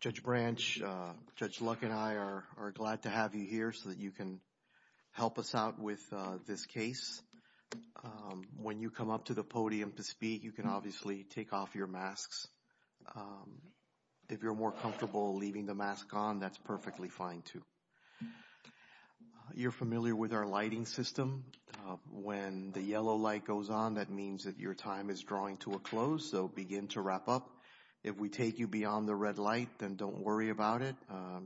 Judge Branch, Judge Luck and I are glad to have you here so that you can help us out with this case. When you come up to the podium to speak, you can obviously take off your masks. If you're more comfortable leaving the mask on, that's perfectly fine too. You're familiar with our lighting system. When the yellow light goes on, that means that your time is drawing to a close, so begin to wrap up. If we take you beyond the red light, then don't worry about it.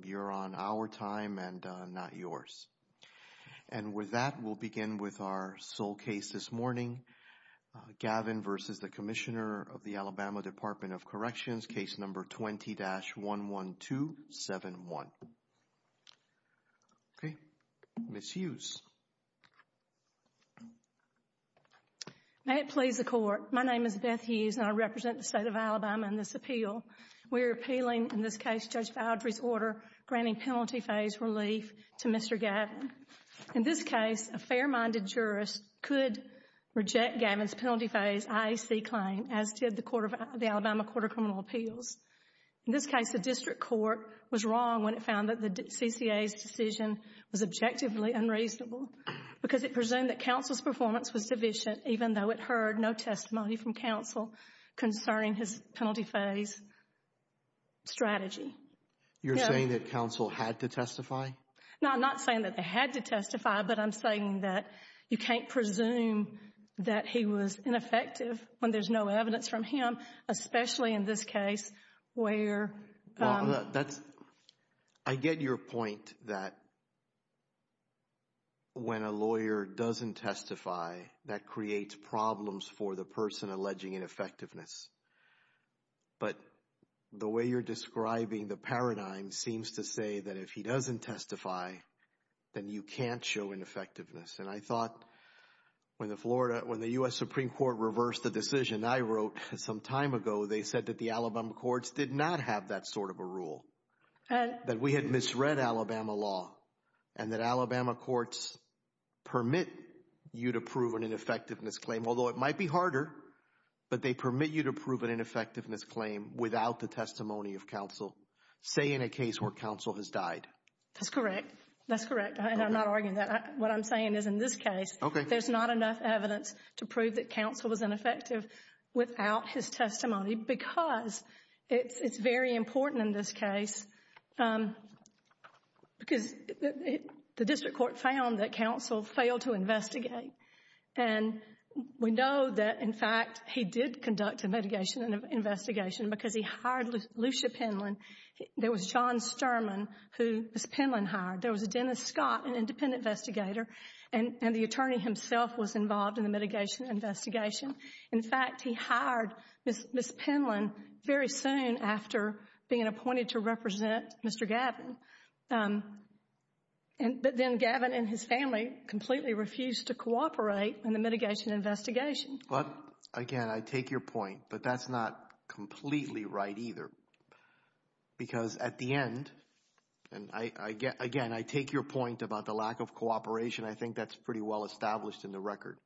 You're on our time and not yours. And with that, we'll begin with our sole case this morning, Gavin v. Commissioner of the Alabama Department of Corrections, this case number 20-11271. Okay, Ms. Hughes. May it please the Court, my name is Beth Hughes and I represent the state of Alabama in this appeal. We're appealing, in this case, Judge Godfrey's order granting penalty phase relief to Mr. Gavin. In this case, a fair-minded jurist could reject Gavin's penalty phase IAC claim, as did the Alabama Court of Criminal Appeals. In this case, the district court was wrong when it found that the CCA's decision was objectively unreasonable because it presumed that counsel's performance was sufficient even though it heard no testimony from counsel concerning his penalty phase strategy. You're saying that counsel had to testify? No, I'm not saying that they had to testify, but I'm saying that you can't presume that he was ineffective when there's no evidence from him, especially in this case where... I get your point that when a lawyer doesn't testify, that creates problems for the person alleging ineffectiveness. But the way you're describing the paradigm seems to say that if he doesn't testify, then you can't show ineffectiveness. And I thought when the US Supreme Court reversed the decision I wrote some time ago, they said that the Alabama courts did not have that sort of a rule, that we had misread Alabama law, and that Alabama courts permit you to prove an ineffectiveness claim, although it might be harder, but they permit you to prove an ineffectiveness claim without the testimony of counsel, say in a case where counsel has died. That's correct. That's correct. And I'm not arguing that. What I'm saying is in this case, there's not enough evidence to prove that counsel was ineffective without his testimony, because it's very important in this case, because the district court found that counsel failed to investigate. And we know that, in fact, he did conduct a mitigation investigation because he hired Lucia Penland. There was John Sturman, who Penland hired. There was a Dennis Penland, who was the investigator, and the attorney himself was involved in the mitigation investigation. In fact, he hired Miss Penland very soon after being appointed to represent Mr. Gavin. But then Gavin and his family completely refused to cooperate in the mitigation investigation. But again, I take your point, but that's not completely right either. Because at the end, and again, I take your point about the lack of cooperation. I think that's pretty well established in the record.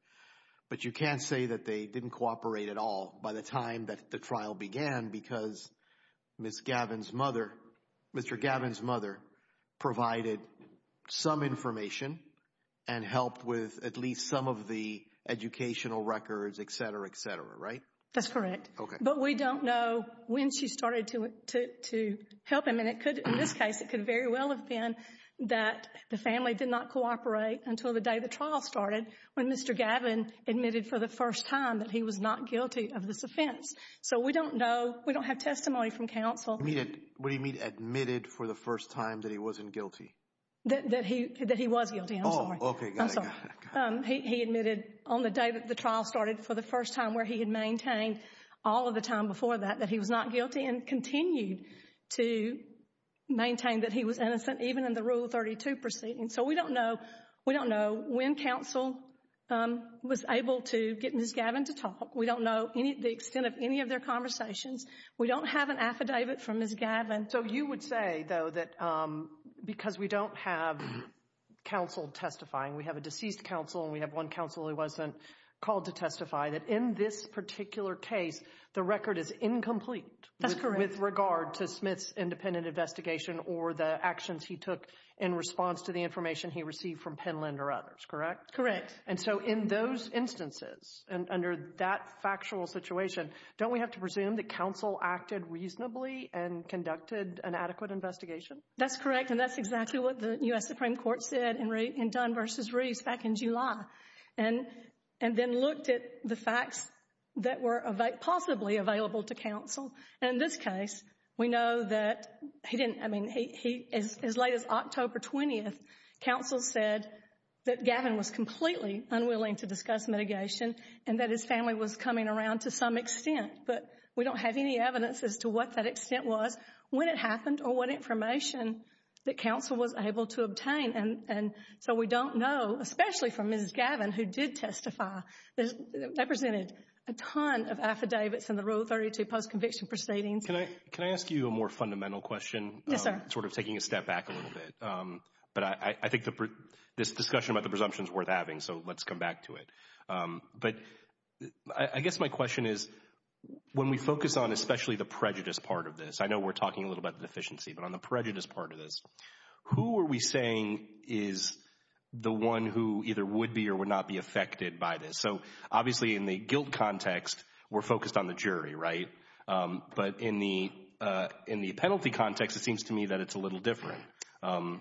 But you can't say that they didn't cooperate at all by the time that the trial began, because Mr. Gavin's mother provided some information and helped with at least some of the educational records, et cetera, et cetera, right? That's correct. But we don't know when she started to help him. And in this case, it could very well have been that the family did not cooperate until the day the trial started when Mr. Gavin admitted for the first time that he was not guilty of this offense. So we don't know. We don't have testimony from counsel. What do you mean admitted for the first time that he wasn't guilty? That he was guilty, I'm sorry. Oh, okay, got it, got it. He admitted on the day that the trial started for the first time where he had maintained all of the time before that, that he was not guilty and continued to maintain that he was innocent even in the Rule 32 proceeding. So we don't know when counsel was able to get Ms. Gavin to talk. We don't know the extent of any of their conversations. We don't have an affidavit from Ms. Gavin. So you would say though that because we don't have counsel testifying, we have a deceased counsel and we have one counsel who wasn't called to testify, that in this particular case, the record is incomplete with regard to Smith's independent investigation or the actions he took in response to the information he received from Penland or others, correct? Correct. And so in those instances and under that factual situation, don't we have to presume that counsel acted reasonably and conducted an adequate investigation? That's correct, and that's exactly what the U.S. Supreme Court said in Dunn v. Reeves back in July and then looked at the facts that were possibly available to counsel. And in this case, we know that he didn't, I mean, as late as October 20th, counsel said that Gavin was completely unwilling to discuss mitigation and that his family was coming around to some extent, but we don't have any evidence as to what that extent was, when it happened or what information that counsel was able to obtain. And so we don't know, especially for Mrs. Gavin, who did testify, represented a ton of affidavits in the Rule 32 post-conviction proceedings. Can I ask you a more fundamental question? Yes, sir. Sort of taking a step back a little bit, but I think this discussion about the presumption is worth having, so let's come back to it. But I guess my question is, when we focus on especially the prejudice part of this, I know we're talking a little bit of deficiency, but on the prejudice part of this, who are we saying is the one who either would be or would not be affected by this? So obviously in the guilt context, we're focused on the jury, right? But in the penalty context, it seems to me that it's a little different,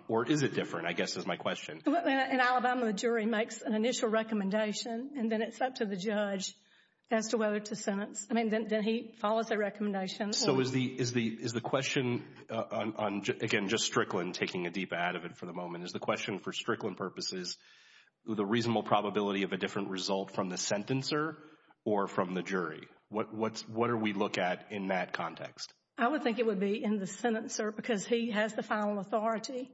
or is it different, I guess is my question. In Alabama, the jury makes an initial recommendation and then it's up to the judge as to whether it's a sentence. I mean, then he follows the recommendation. So is the question, again, just Strickland, taking a deep ad of it for the moment, is the question for Strickland purposes, the reasonable probability of a different result from the sentencer or from the jury? What do we look at in that context? I would think it would be in the sentencer because he has the final authority.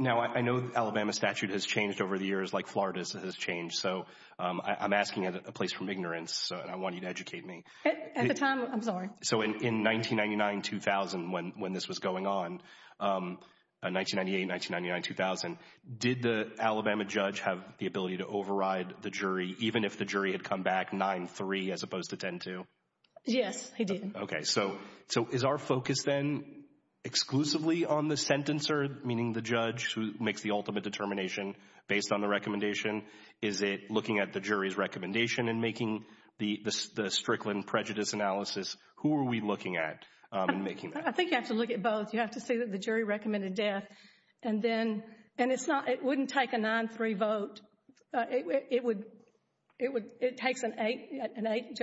Now, I know Alabama statute has changed over the years, like Florida's has changed, so I'm asking a place from ignorance, so I want you to educate me. At the time, I'm sorry. So in 1999, 2000, when this was going on, 1998, 1999, 2000, did the Alabama judge have the ability to override the jury, even if the jury had come back 9-3 as opposed to 10-2? Yes, he did. Okay. So is our focus then exclusively on the sentencer, meaning the judge who makes the ultimate determination based on the recommendation? Is it looking at the jury's recommendation and making the Strickland prejudice analysis? Who are we looking at in making that? I think you have to look at both. You have to see that the jury recommended death, and it wouldn't take a 9-3 vote. It takes an eight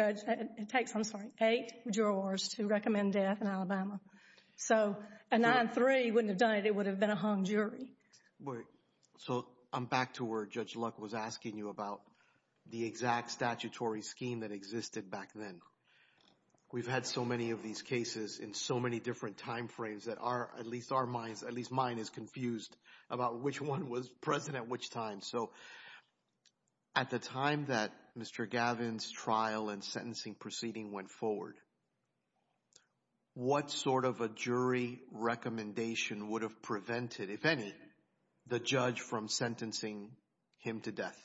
jurors to recommend death in Alabama. So a 9-3 wouldn't have done it. It would have been a hung jury. Wait. So I'm back to where Judge Luck was asking you about the exact statutory scheme that existed back then. We've had so many of these cases in so many different time frames that at least mine is confused about which one was present at which time. So at the time that Mr. Gavin's trial and sentencing proceeding went forward, what sort of a jury recommendation would have prevented, if any, the judge from sentencing him to death?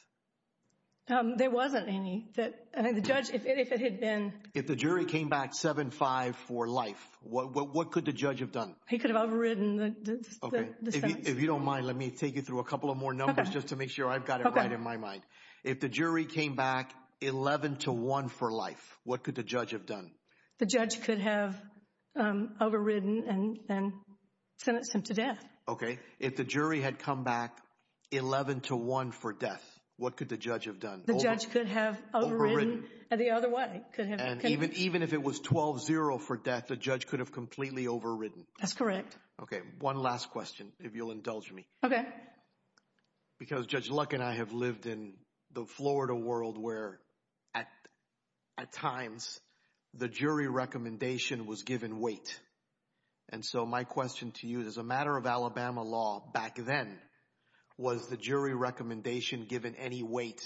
There wasn't any. I think the judge, if it had been... If the jury came back 7-5 for life, what could the judge have done? He could have overridden the sentence. If you don't mind, let me take you through a couple of more numbers just to make sure I've got it right in my mind. If the jury came back 11-1 for life, what could the judge have done? The judge could have overridden and sentenced him to death. Okay. If the jury had come back 11-1 for death, what could the judge have done? The judge could have overridden the other one. Even if it was 12-0 for death, the judge could have completely overridden. That's correct. Okay. One last question, if you'll indulge me. Okay. Because Judge Luck and I have lived in the Florida world where, at times, the jury recommendation was given weight. And so my question to you is, as a matter of Alabama law back then, was the jury recommendation given any weight?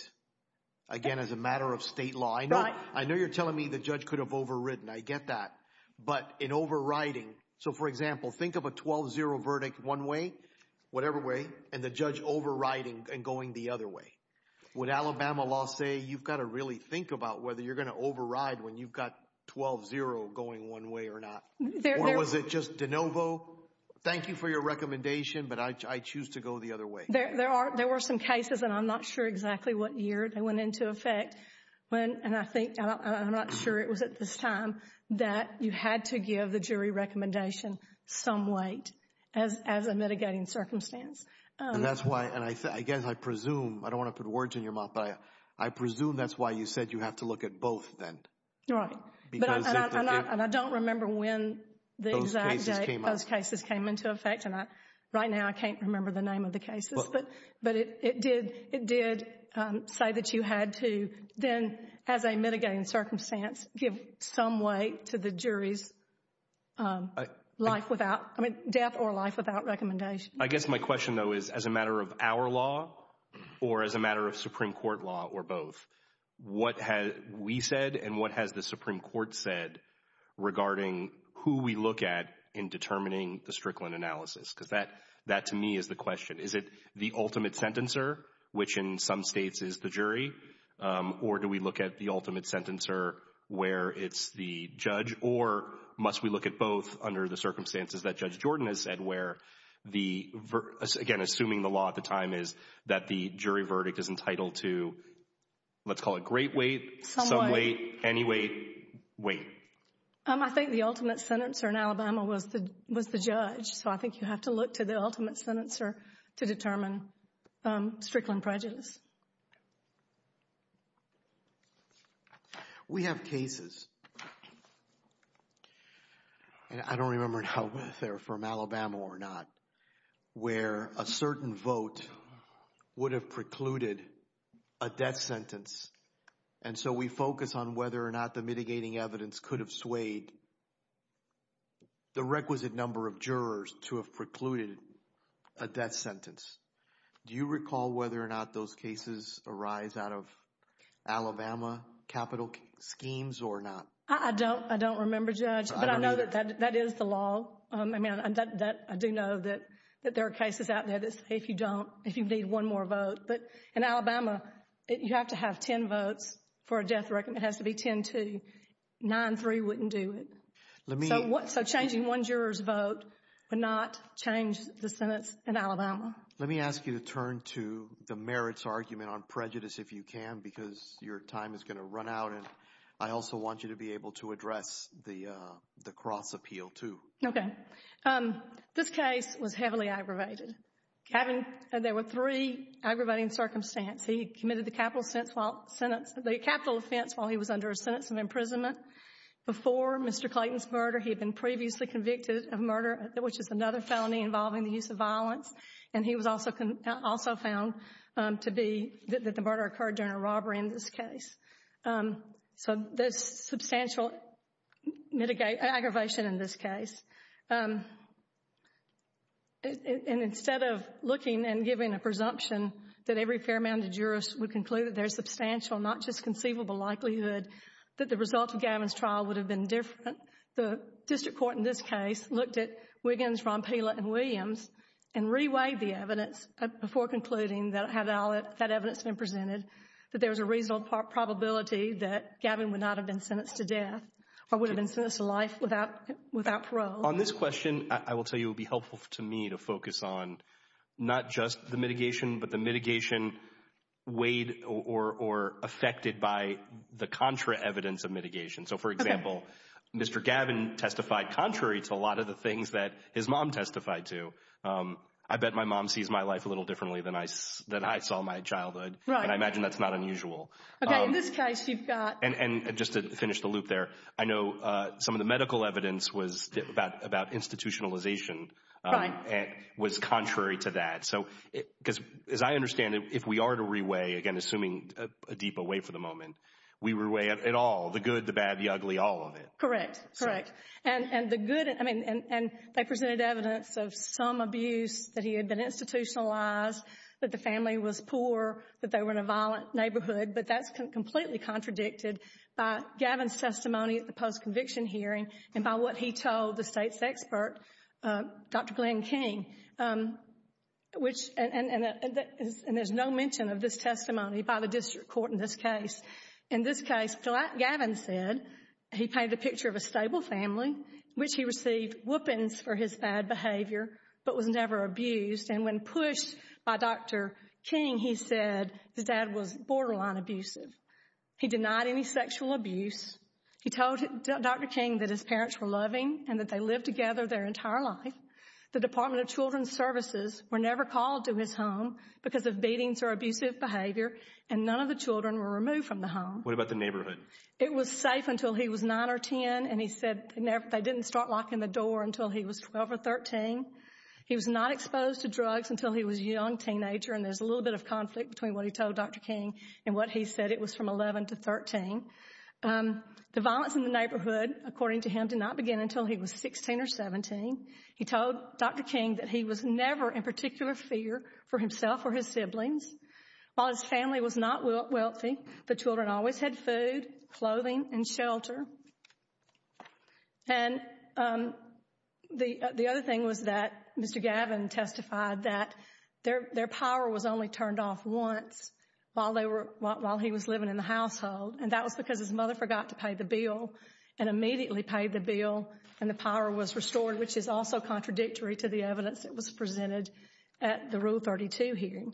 Again, as a matter of state law. Right. I know you're telling me the judge could have overridden. I get that. But in overriding... So, for example, think of a 12-0 verdict one way, whatever way, and the judge overriding and going the other way. With Alabama law, say, you've got to really think about whether you're going to override when you've got 12-0 going one way or not. Or was it just de novo? Thank you for your recommendation, but I choose to go the other way. There were some cases, and I'm not sure exactly what year they went into effect. And I think, I'm not sure it was at this time, that you had to give the jury recommendation some weight as a mitigating circumstance. And that's why, and I guess I presume, I don't want to put words in your mouth, but I presume that's why you said you have to look at both then. Right. And I don't remember when those cases came into effect. Right now, I can't remember the name of the cases, but it did say that you had to, then, as a mitigating circumstance, give some weight to the jury's life without, I mean, death or life without recommendation. I guess my question, though, is as a matter of our law or as a matter of Supreme Court law or both, what has we said and what has the Supreme Court said regarding who we look at in determining the Strickland analysis? Because that, to me, is the question. Is it the ultimate sentencer, which in some states is the jury? Or do we look at the ultimate sentencer where it's the judge? Or must we look at both under the circumstances that Judge Jordan has said where the, again, assuming the law at the time is that the jury verdict is entitled to, let's call it great weight, some weight, any weight, weight. I think the ultimate sentencer in Alabama was the judge. I think you have to look to the ultimate sentencer to determine Strickland prejudice. We have cases. I don't remember if they're from Alabama or not, where a certain vote would have precluded a death sentence. We focus on whether or not the mitigating evidence could have swayed the requisite number of jurors to have precluded a death sentence. Do you recall whether or not those cases arise out of Alabama capital schemes or not? I don't. I don't remember, Judge, but I know that that is the law. I mean, I do know that there are cases out there that say if you don't, if you need one more vote. But in Alabama, you have to have 10 votes for a death sentence. I reckon it has to be 10-2. 9-3 wouldn't do it. So changing one juror's vote would not change the sentence in Alabama. Let me ask you to turn to the merits argument on prejudice if you can, because your time is going to run out. And I also want you to be able to address the Croth's appeal, too. Okay. This case was heavily aggravated. There were three aggravating circumstances. He committed the capital offense while he was under a sentence of imprisonment. Before Mr. Clayton's murder, he had been previously convicted of murder, which is another felony involving the use of violence. And he was also found to be that the murder occurred during a robbery in this case. So there's substantial aggravation in this case. And instead of looking and giving a presumption that every fair amount of jurors would conclude that there's substantial, not just conceivable, likelihood that the results of Gavin's trial would have been different, the district court in this case looked at Wiggins, Vompela, and Williams and reweighed the evidence before concluding that had all that evidence been presented, that there was a reasonable probability that Gavin would not have been sentenced to death or would have been sentenced to life without parole. On this question, I will tell you, it would be helpful to me to focus on not just the mitigation, but the mitigation weighed or affected by the contra evidence of mitigation. So, for example, Mr. Gavin testified contrary to a lot of the things that his mom testified to. I bet my mom sees my life a little differently than I saw my childhood. Right. And I imagine that's not unusual. Okay. In this case, you've got... And just to finish the loop there, I know some of the medical evidence was about institutionalization and was contrary to that. So, because as I understand it, if we are to reweigh, again, assuming Adeepa, wait for the moment, we reweigh it all, the good, the bad, the ugly, all of it. Correct. Correct. And the good, I mean, and they presented evidence of some abuse, that he had been institutionalized, that the family was poor, that they were in a violent neighborhood, but that's completely contradicted by Gavin's testimony at the post-conviction hearing and by what he told the state's expert, Dr. Glenn King, which... And there's no mention of this testimony by the district court in this case. In this case, Gavin said he paid the picture of a stable family, which he King, he said his dad was borderline abusive. He denied any sexual abuse. He told Dr. King that his parents were loving and that they lived together their entire life. The Department of Children's Services were never called to his home because of beatings or abusive behavior, and none of the children were removed from the home. What about the neighborhood? It was safe until he was nine or 10, and he said they didn't start locking the door until he was 12 or 13. He was not exposed to drugs until he was a young teenager. And there's a little bit of conflict between what he told Dr. King and what he said. It was from 11 to 13. The violence in the neighborhood, according to him, did not begin until he was 16 or 17. He told Dr. King that he was never in particular fear for himself or his siblings. While his family was not wealthy, the children always had food, clothing, and shelter. And the other thing was that Mr. Gavin testified that their power was only turned off once while he was living in the household, and that was because his mother forgot to pay the bill and immediately paid the bill, and the power was restored, which is also contradictory to the evidence that was presented at the Rule 32 hearing.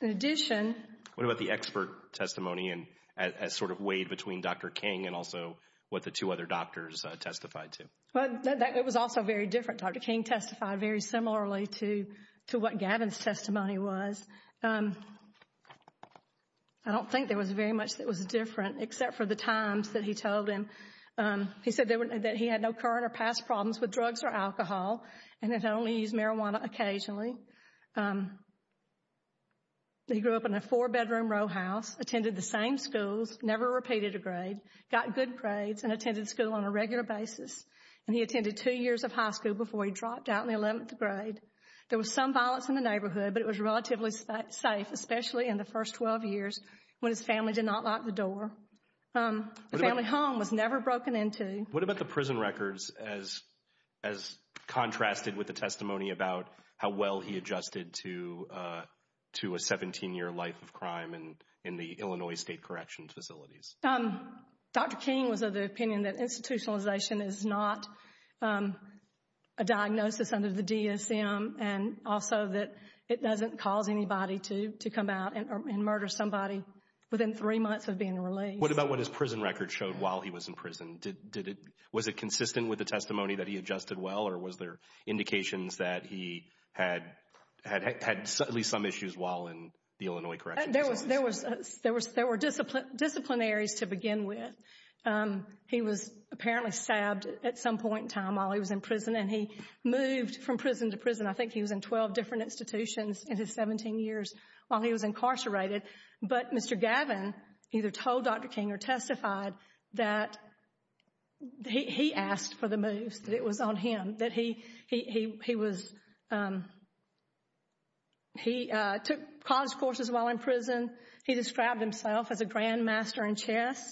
In addition... What about the expert testimony and sort of weight between Dr. King and also Dr. King's what the two other doctors testified to? Well, it was also very different. Dr. King testified very similarly to what Gavin's testimony was. I don't think there was very much that was different except for the times that he told him. He said that he had no current or past problems with drugs or alcohol, and had only used marijuana occasionally. He grew up in a four-bedroom row house, attended the same schools, never repeated a grade, got good grades, and attended school on a regular basis. And he attended two years of high school before he dropped out in the 11th grade. There was some violence in the neighborhood, but it was relatively safe, especially in the first 12 years when his family did not lock the door. The family home was never broken into. What about the prison records as contrasted with the testimony about how well he adjusted to a 17-year life of crime in the Illinois state corrections facilities? Dr. King was of the opinion that institutionalization is not a diagnosis under the DSM, and also that it doesn't cause anybody to come out and murder somebody within three months of being released. What about what his prison record showed while he was in prison? Was it consistent with the testimony that he adjusted well, or was there indications that he had at least some issues while in the Illinois corrections? There were disciplinaries to begin with. He was apparently stabbed at some point in time while he was in prison, and he moved from prison to prison. I think he was in 12 different institutions in his 17 years while he was incarcerated. But Mr. Gavin either told Dr. King or testified that he asked for the move, that it was on him. He took cons courses while in prison. He described himself as a grandmaster in chess.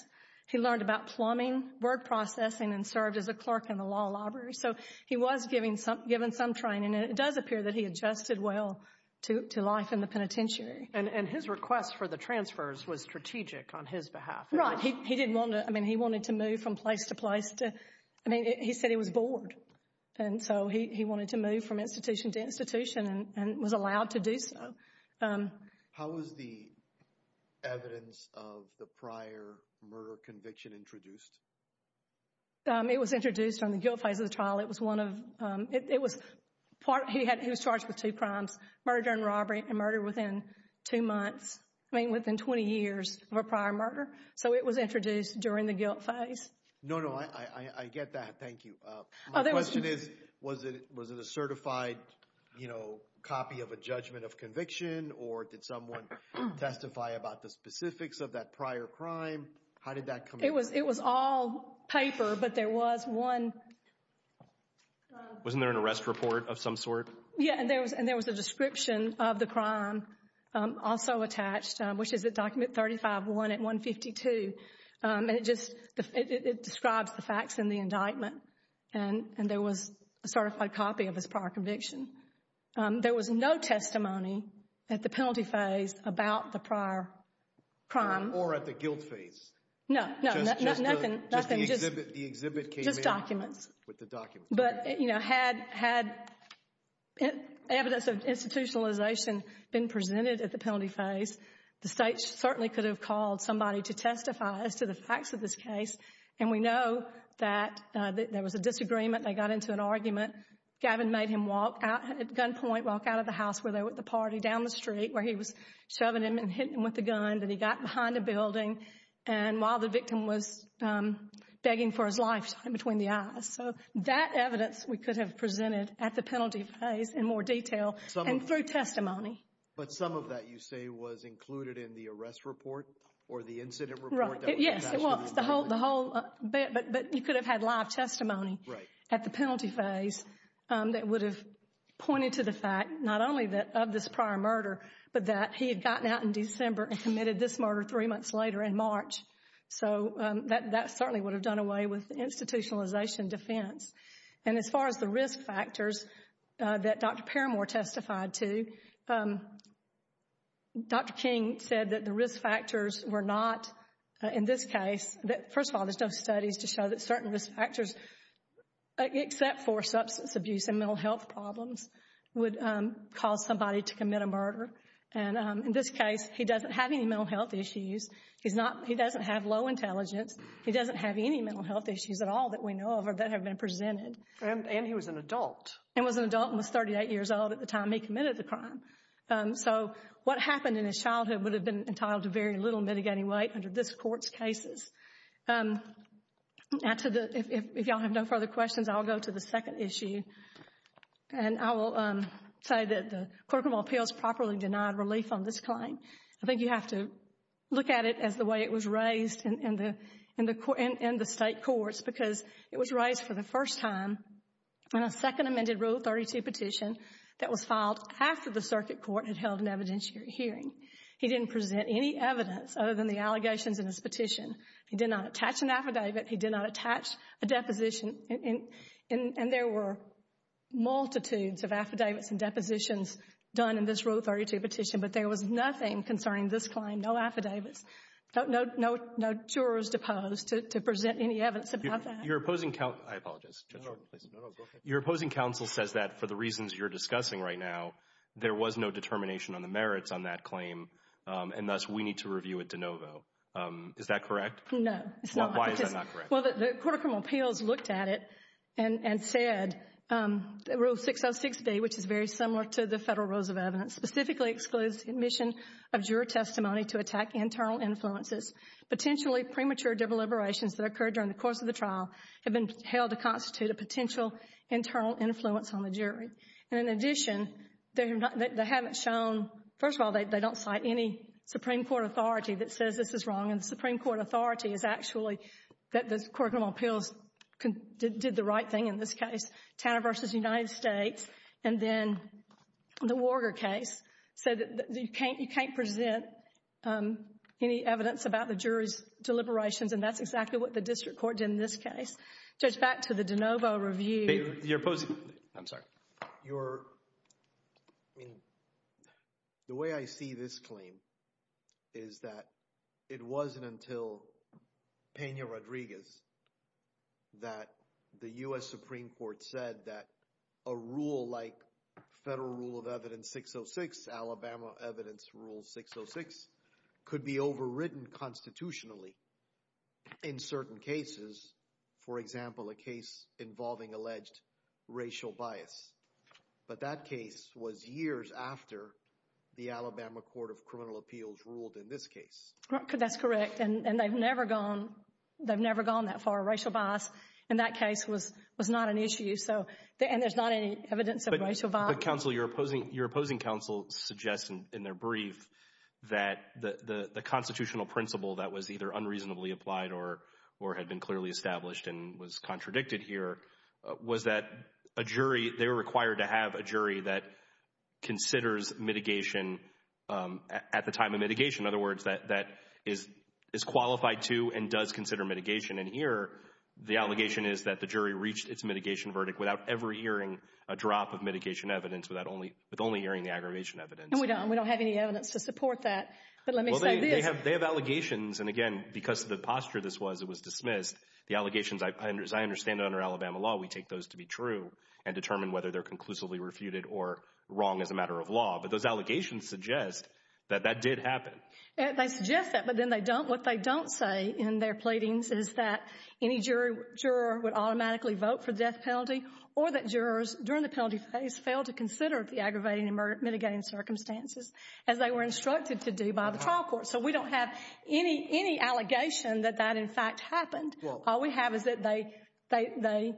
He learned about plumbing, word processing, and served as a clerk in the law library. So he was given some training, and it does appear that he adjusted well to life in the penitentiary. And his request for the transfers was strategic on his behalf. Right. He wanted to move from place to place. I mean, he said he was bored, and so he wanted to move from institution to institution and was allowed to do so. How was the evidence of the prior murder conviction introduced? It was introduced on the guilt phase of the trial. He was charged with two crimes, murder and robbery, and murder within two months. I mean, within 20 years of a prior murder. It was introduced during the guilt phase. No, no, I get that. Thank you. Was it a certified copy of a judgment of conviction, or did someone testify about the specifics of that prior crime? How did that come about? It was all paper, but there was one... Wasn't there an arrest report of some sort? Yeah, and there was a description of the crime also attached, which is at Document 35-1 at 152, and it just describes the facts in the indictment, and there was a certified copy of his prior conviction. There was no testimony at the penalty phase about the prior crime. Or at the guilt phase. No, no, nothing. Just the exhibit came in. Just documents. With the documents. But, you know, had evidence of at the penalty phase, the state certainly could have called somebody to testify to the facts of this case, and we know that there was a disagreement. They got into an argument. Gavin made him walk out at gunpoint, walk out of the house where they were at the party, down the street where he was shoving him and hitting him with the guns, and he got behind a building, and while the victim was begging for his life in between the eyes. So that evidence we could have presented at the penalty phase in more detail and through testimony. But some of that, you say, was included in the arrest report or the incident report? Right. Yeah, well, the whole bit, but you could have had live testimony at the penalty phase that would have pointed to the fact not only that of this prior murder, but that he had gotten out in December and committed this murder three months later in March. So that certainly would have done away with institutionalization defense. And as far as the risk factors that Dr. Paramore testified to, Dr. King said that the risk factors were not, in this case, that, first of all, there's no studies to show that certain risk factors, except for substance abuse and mental health problems, would cause somebody to commit a murder. And in this case, he doesn't have any mental health issues. He doesn't have low intelligence. He doesn't have any mental issues at all that we know of that have been presented. And he was an adult. And was an adult and was 38 years old at the time he committed the crime. So what happened in his childhood would have been entitled to very little mitigating weight under this court's cases. If y'all have no further questions, I'll go to the second issue. And I will say that the Court of Appeals properly denied relief on this claim. I think you have to look at it as the way it was raised in the state courts because it was raised for the first time in a second amended Rule 32 petition that was filed after the circuit court had held an evidentiary hearing. He didn't present any evidence other than the allegations in his petition. He did not attach an affidavit. He did not attach a deposition. And there were no affidavits. No jurors deposed to present any evidence about that. Your opposing counsel says that for the reasons you're discussing right now, there was no determination on the merits on that claim. And thus, we need to review it de novo. Is that correct? No. Why is that not correct? Well, the Court of Appeals looked at it and said Rule 606B, which is very similar to the jury testimony, to attack internal influences. Potentially premature deliberations that occurred during the course of the trial have been held to constitute a potential internal influence on the jury. And in addition, they haven't shown, first of all, they don't cite any Supreme Court authority that says this is wrong. And the Supreme Court authority is actually that the Court of Appeals did the right thing in this case, Canada versus the United States. And then the Warger case said you can't present any evidence about the jury's deliberations. And that's exactly what the district court did in this case. So it's back to the de novo review. The way I see this claim is that it wasn't until Pena-Rodriguez that the U.S. Supreme Court said that a rule like Federal Rule of Evidence 606, Alabama Evidence Rule 606, could be overridden constitutionally in certain cases. For example, a case involving alleged racial bias. But that case was years after the Alabama Court of Criminal Appeals ruled in this case. That's correct. And they've never gone that far. Racial bias in that case was not an issue. And there's not any evidence of racial bias. Your opposing counsel suggests in their brief that the constitutional principle that was either unreasonably applied or had been clearly established and was contradicted here, was that a jury, they were required to have a jury that considers mitigation at the time of mitigation. In other words, that is qualified to and does consider mitigation. And here, the allegation is that the jury reached its mitigation verdict without ever hearing a drop of mitigation evidence, with only hearing the aggravation evidence. We don't have any evidence to support that. But let me say this. They have allegations. And again, because of the posture this was, it was dismissed. The allegations, as I understand it under Alabama law, we take those to be true and determine whether they're conclusively refuted or wrong as a matter of law. But those allegations suggest that that did happen. They suggest that, but then what they don't say in their pleadings is that any juror would automatically vote for death penalty, or that jurors during the penalty phase fail to consider the aggravating and mitigating circumstances as they were instructed to do by the trial court. So we don't have any allegation that that in fact happened. All we have is that they,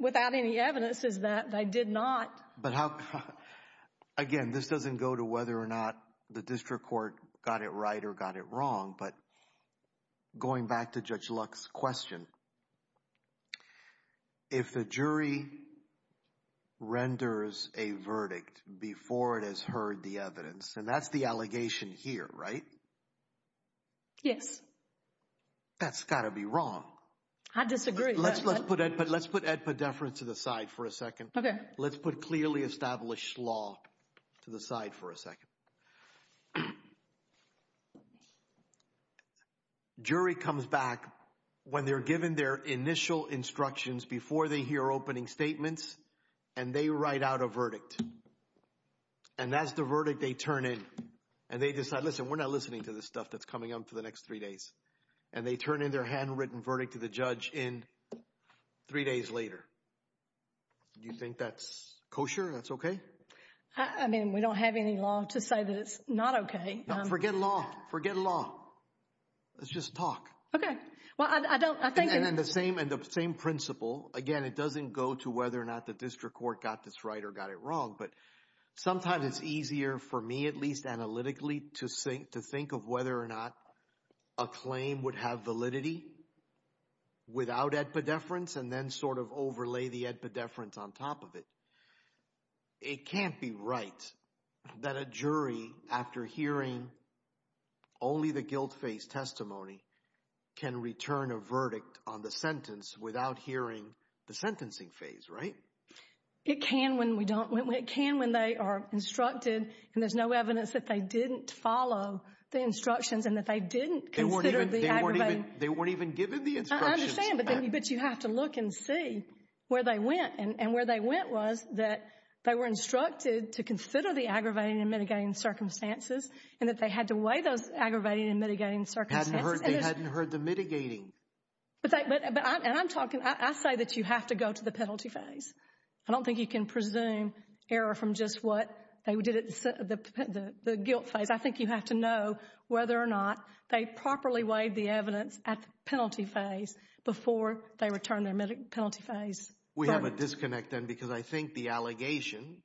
without any evidence, is that they did not. Again, this doesn't go to whether or not the district court got it right or got it wrong. But going back to Judge Lux's question, if the jury renders a verdict before it has heard the evidence, and that's the allegation here, right? Yes. That's got to be wrong. I disagree. Let's put Ed Poddeffer to the side for a second. Okay. Let's put clearly established law to the side for a second. The jury comes back when they're given their initial instructions before they hear opening statements, and they write out a verdict. And that's the verdict they turn in. And they decide, listen, we're not listening to this stuff that's coming up for the next three days. And they turn in their handwritten verdict to the judge in three days later. Do you think that's kosher, that's okay? I mean, we don't have any law to say that it's not okay. No, forget law. Forget law. Let's just talk. Okay. Well, I don't... And the same principle. Again, it doesn't go to whether or not the district court got this right or got it wrong. But sometimes it's easier for me, at least analytically, to think of whether or not a claim would have validity without Ed Poddefference, and then sort of overlay the Ed Poddefference on top of it. It can't be right that a jury, after hearing only the guilt phase testimony, can return a verdict on the sentence without hearing the sentencing phase, right? It can when we don't... It can when they are instructed and there's no evidence that they didn't follow the instructions and that they didn't consider the aggravated... They weren't even given the instructions. I understand, but you have to look and see where they went. And where they went was that they were instructed to consider the aggravating and mitigating circumstances and that they had to weigh those aggravating and mitigating circumstances. They hadn't heard the mitigating. But I'm talking... I say that you have to go to the penalty phase. I don't think you can presume error from just what they did at the guilt phase. I think you have to know whether or not they properly weighed the evidence at the penalty phase before they returned their penalty phase. We have a disconnect then because I think the allegation,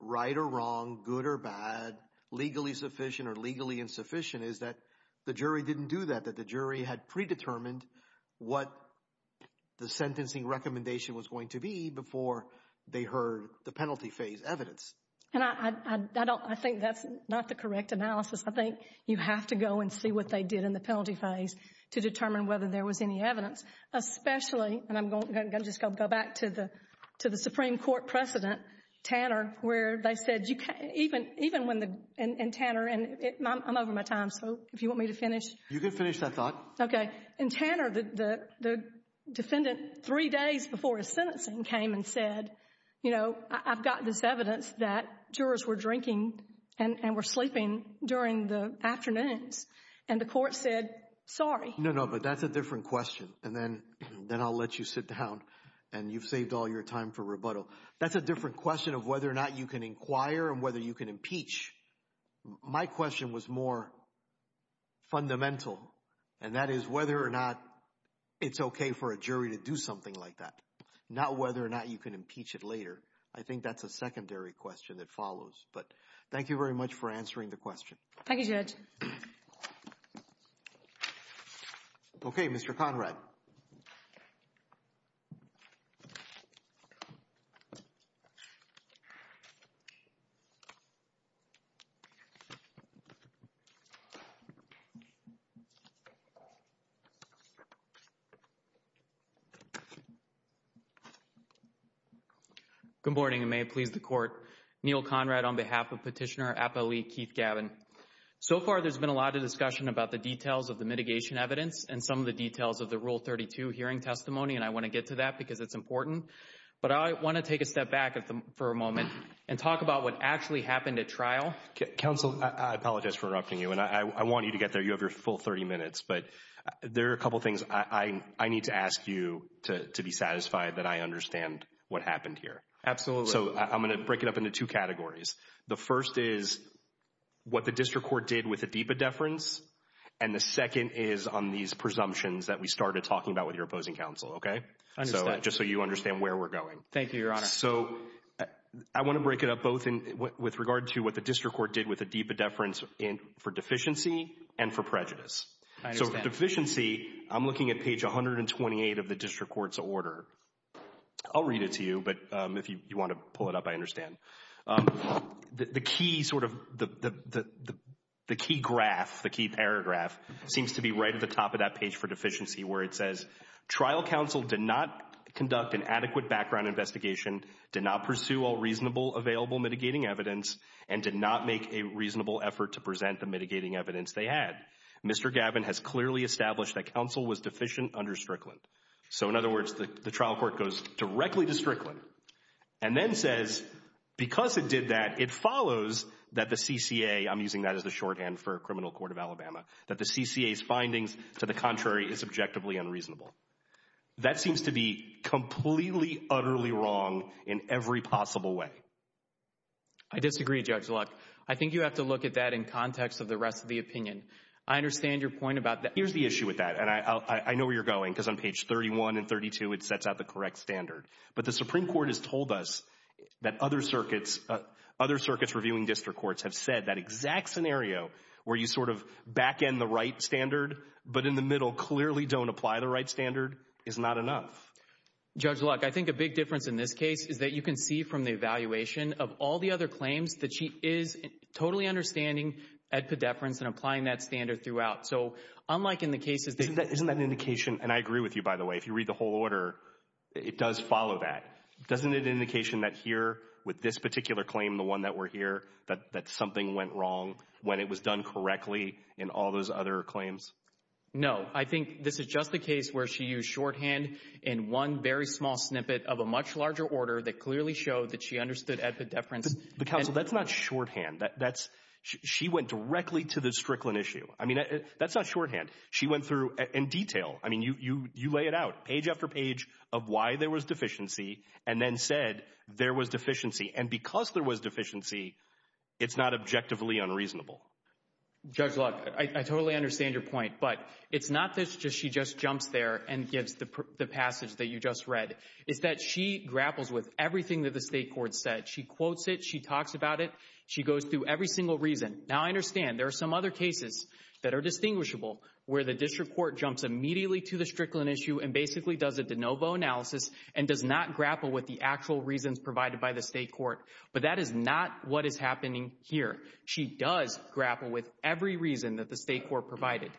right or wrong, good or bad, legally sufficient or legally insufficient, is that the jury didn't do that, that the jury had predetermined what the sentencing recommendation was going to be before they heard the penalty phase evidence. And I think that's not the correct analysis. I think you have to go and see what they did in the penalty phase to determine whether there was any evidence, especially... And I'm going to just go back to the Supreme Court precedent, Tanner, where they said you can't... Even when the... And Tanner, and I'm over my time, so if you want me to finish. You can finish, I thought. Okay. And Tanner, the defendant, three days before his sentencing came and said, you know, I've got this evidence that jurors were drinking and were sleeping during the afternoons and the court said, sorry. No, no, but that's a different question. And then I'll let you sit down. And you've saved all your time for rebuttal. That's a different question of whether or not you can inquire and whether you can impeach. My question was more fundamental. And that is whether or not it's okay for a jury to do something like that, not whether or not you can impeach it later. I think that's a secondary question that follows. But thank you very much for answering the question. Thank you, Judge. Thank you. Okay, Mr. Conrad. Good morning, and may it please the court. Neil Conrad on behalf of Petitioner Appellee Keith Gavin. So far, there's been a lot of discussion about the details of the mitigation evidence and some of the details of the Rule 32 hearing testimony. And I want to get to that because it's important. But I want to take a step back for a moment and talk about what actually happened at trial. Counsel, I apologize for interrupting you. And I want you to get there. You have your full 30 minutes. But there are a couple of things I need to ask you to be satisfied that I understand what happened here. Absolutely. So I'm going to break it up into two categories. The first is what the district court did with the deep indifference. And the second is on these presumptions that we started talking about with your opposing counsel. Okay, just so you understand where we're going. Thank you, Your Honor. So I want to break it up both with regard to what the district court did with the deep indifference for deficiency and for prejudice. So deficiency, I'm looking at page 128 of the district court's order. I'll read it to you. But if you want to pull it up, I understand. The key sort of the key graph, the key paragraph seems to be right at the top of that page for deficiency where it says, trial counsel did not conduct an adequate background investigation, did not pursue all reasonable available mitigating evidence, and did not make a reasonable effort to present the mitigating evidence they had. Mr. Gavin has clearly established that counsel was deficient under Strickland. So in other words, the trial court goes directly to Strickland. And then says, because it did that, it follows that the CCA, I'm using that as a shorthand for Criminal Court of Alabama, that the CCA's findings to the contrary is objectively unreasonable. That seems to be completely, utterly wrong in every possible way. I disagree, Judge Luck. I think you have to look at that in context of the rest of the opinion. I understand your point about that. Here's the issue with that. And I know where you're going because on page 31 and 32, it sets out the correct standard. But the Supreme Court has told us that other circuits, other circuits reviewing district courts have said that exact scenario where you sort of back end the right standard, but in the middle clearly don't apply the right standard is not enough. Judge Luck, I think a big difference in this case is that you can see from the evaluation of all the other claims that she is totally understanding that pedeference and applying that standard throughout. So unlike in the case of... Isn't that an indication, and I agree with you, by the way, if you read the whole order, it does follow that. Doesn't it indication that here with this particular claim, the one that we're here, that something went wrong when it was done correctly in all those other claims? No, I think this is just a case where she used shorthand in one very small snippet of a much larger order that clearly showed that she understood as a deference. The counsel, that's not shorthand. She went directly to the Strickland issue. I mean, that's not shorthand. She went through in detail. You lay it out page after page of why there was deficiency and then said there was deficiency. And because there was deficiency, it's not objectively unreasonable. Judge Luck, I totally understand your point. But it's not that she just jumps there and gives the passage that you just read. It's that she grapples with everything that the state court said. She quotes it. She talks about it. She goes through every single reason. Now, I understand there are some other cases that are distinguishable where the district court jumps immediately to the Strickland issue and basically does a de novo analysis and does not grapple with the actual reasons provided by the state court. But that is not what is happening here. She does grapple with every reason that the state court provided.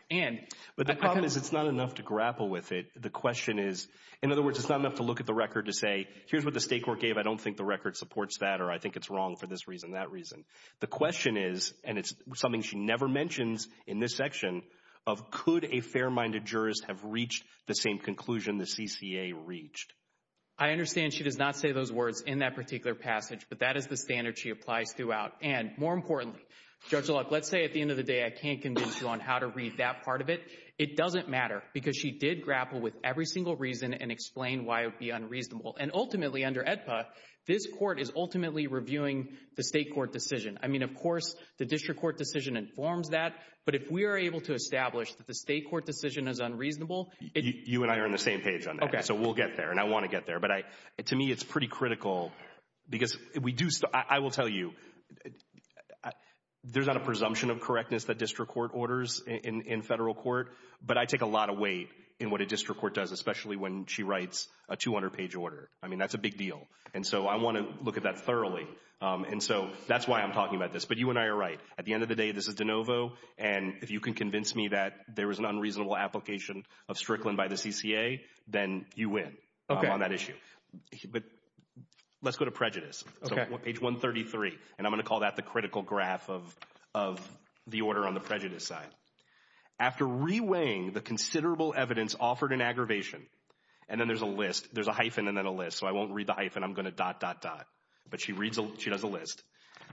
But the problem is it's not enough to grapple with it. The question is, in other words, it's not enough to look at the record to say, here's what the state court gave. I don't think the record supports that or I think it's wrong for this reason, that reason. The question is, and it's something she never mentions in this section, of could a fair-minded jurist have reached the same conclusion the CCA reached? I understand she does not say those words in that particular passage, but that is the standard she applies throughout. And more importantly, Judge Lutz, let's say at the end of the day, I can't convince you on how to read that part of it. It doesn't matter because she did grapple with every single reason and explain why it would be unreasonable. And ultimately, under EDSA, this court is ultimately reviewing the state court decision. I mean, of course, the district court decision informs that. But if we are able to establish that the state court decision is unreasonable. You and I are on the same page on that. So we'll get there. And I want to get there. But to me, it's pretty critical because I will tell you, there's not a presumption of correctness that district court orders in federal court. But I take a lot of weight in what a district court does, especially when she writes a 200-page order. I mean, that's a big deal. And so I want to look at that thoroughly. And so that's why I'm talking about this. But you and I are right. At the end of the day, this is de novo. And if you can convince me that there was an unreasonable application of Strickland by the CCA, then you win on that issue. But let's go to prejudice, page 133. And I'm going to call that the critical graph of the order on the prejudice side. After reweighing the considerable evidence offered in aggravation, and then there's a list, there's a hyphen and then a list. So I won't read the hyphen. I'm going to dot, dot, dot. But she does a list.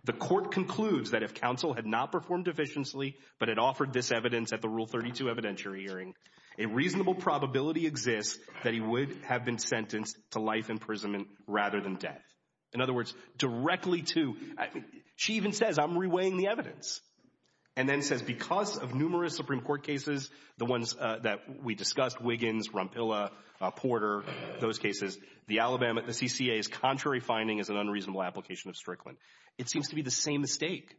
The court concludes that if counsel had not performed efficiently, but it offered this evidence at the Rule 32 evidentiary hearing, a reasonable probability exists that he would have been sentenced to life imprisonment rather than death. In other words, directly to, she even says, I'm reweighing the evidence. And then says, because of numerous Supreme Court cases, the ones that we discussed, Wiggins, Rompilla, Porter, those cases, the Alabama, the CCA's contrary finding is an unreasonable application of Strickland. It seems to be the same mistake.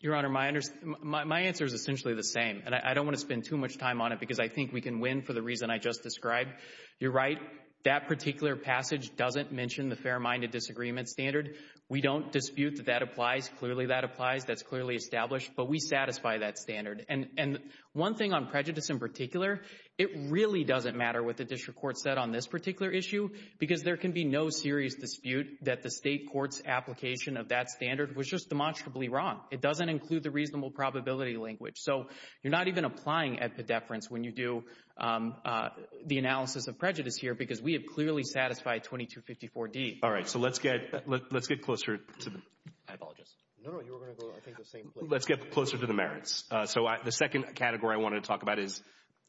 Your Honor, my answer is essentially the same. And I don't want to spend too much time on it because I think we can win for the reason I just described. You're right. That particular passage doesn't mention the fair-minded disagreement standard. We don't dispute that that applies. Clearly that applies. That's clearly established. But we satisfy that standard. And one thing on prejudice in particular, it really doesn't matter what the district court said on this particular issue because there can be no serious dispute that the state court's application of that standard was just demonstrably wrong. It doesn't include the reasonable probability language. So you're not even applying epidefrance when you do the analysis of prejudice here because we have clearly satisfied 2254-D. All right. So let's get closer to the merits. So the second category I want to talk about is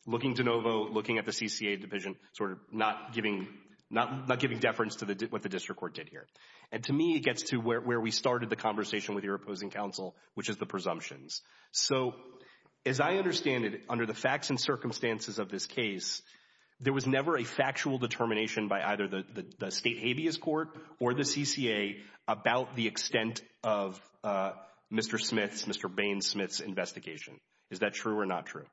looking de novo, looking at the CCA division, sort of not giving deference to what the district court did here. And to me, it gets to where we started the conversation with your opposing counsel, which is the presumptions. So as I understand it, under the facts and circumstances of this case, there was never a factual determination by either the state habeas court or the CCA about the extent of Mr. Bainsmith's investigation. Is that true or not true?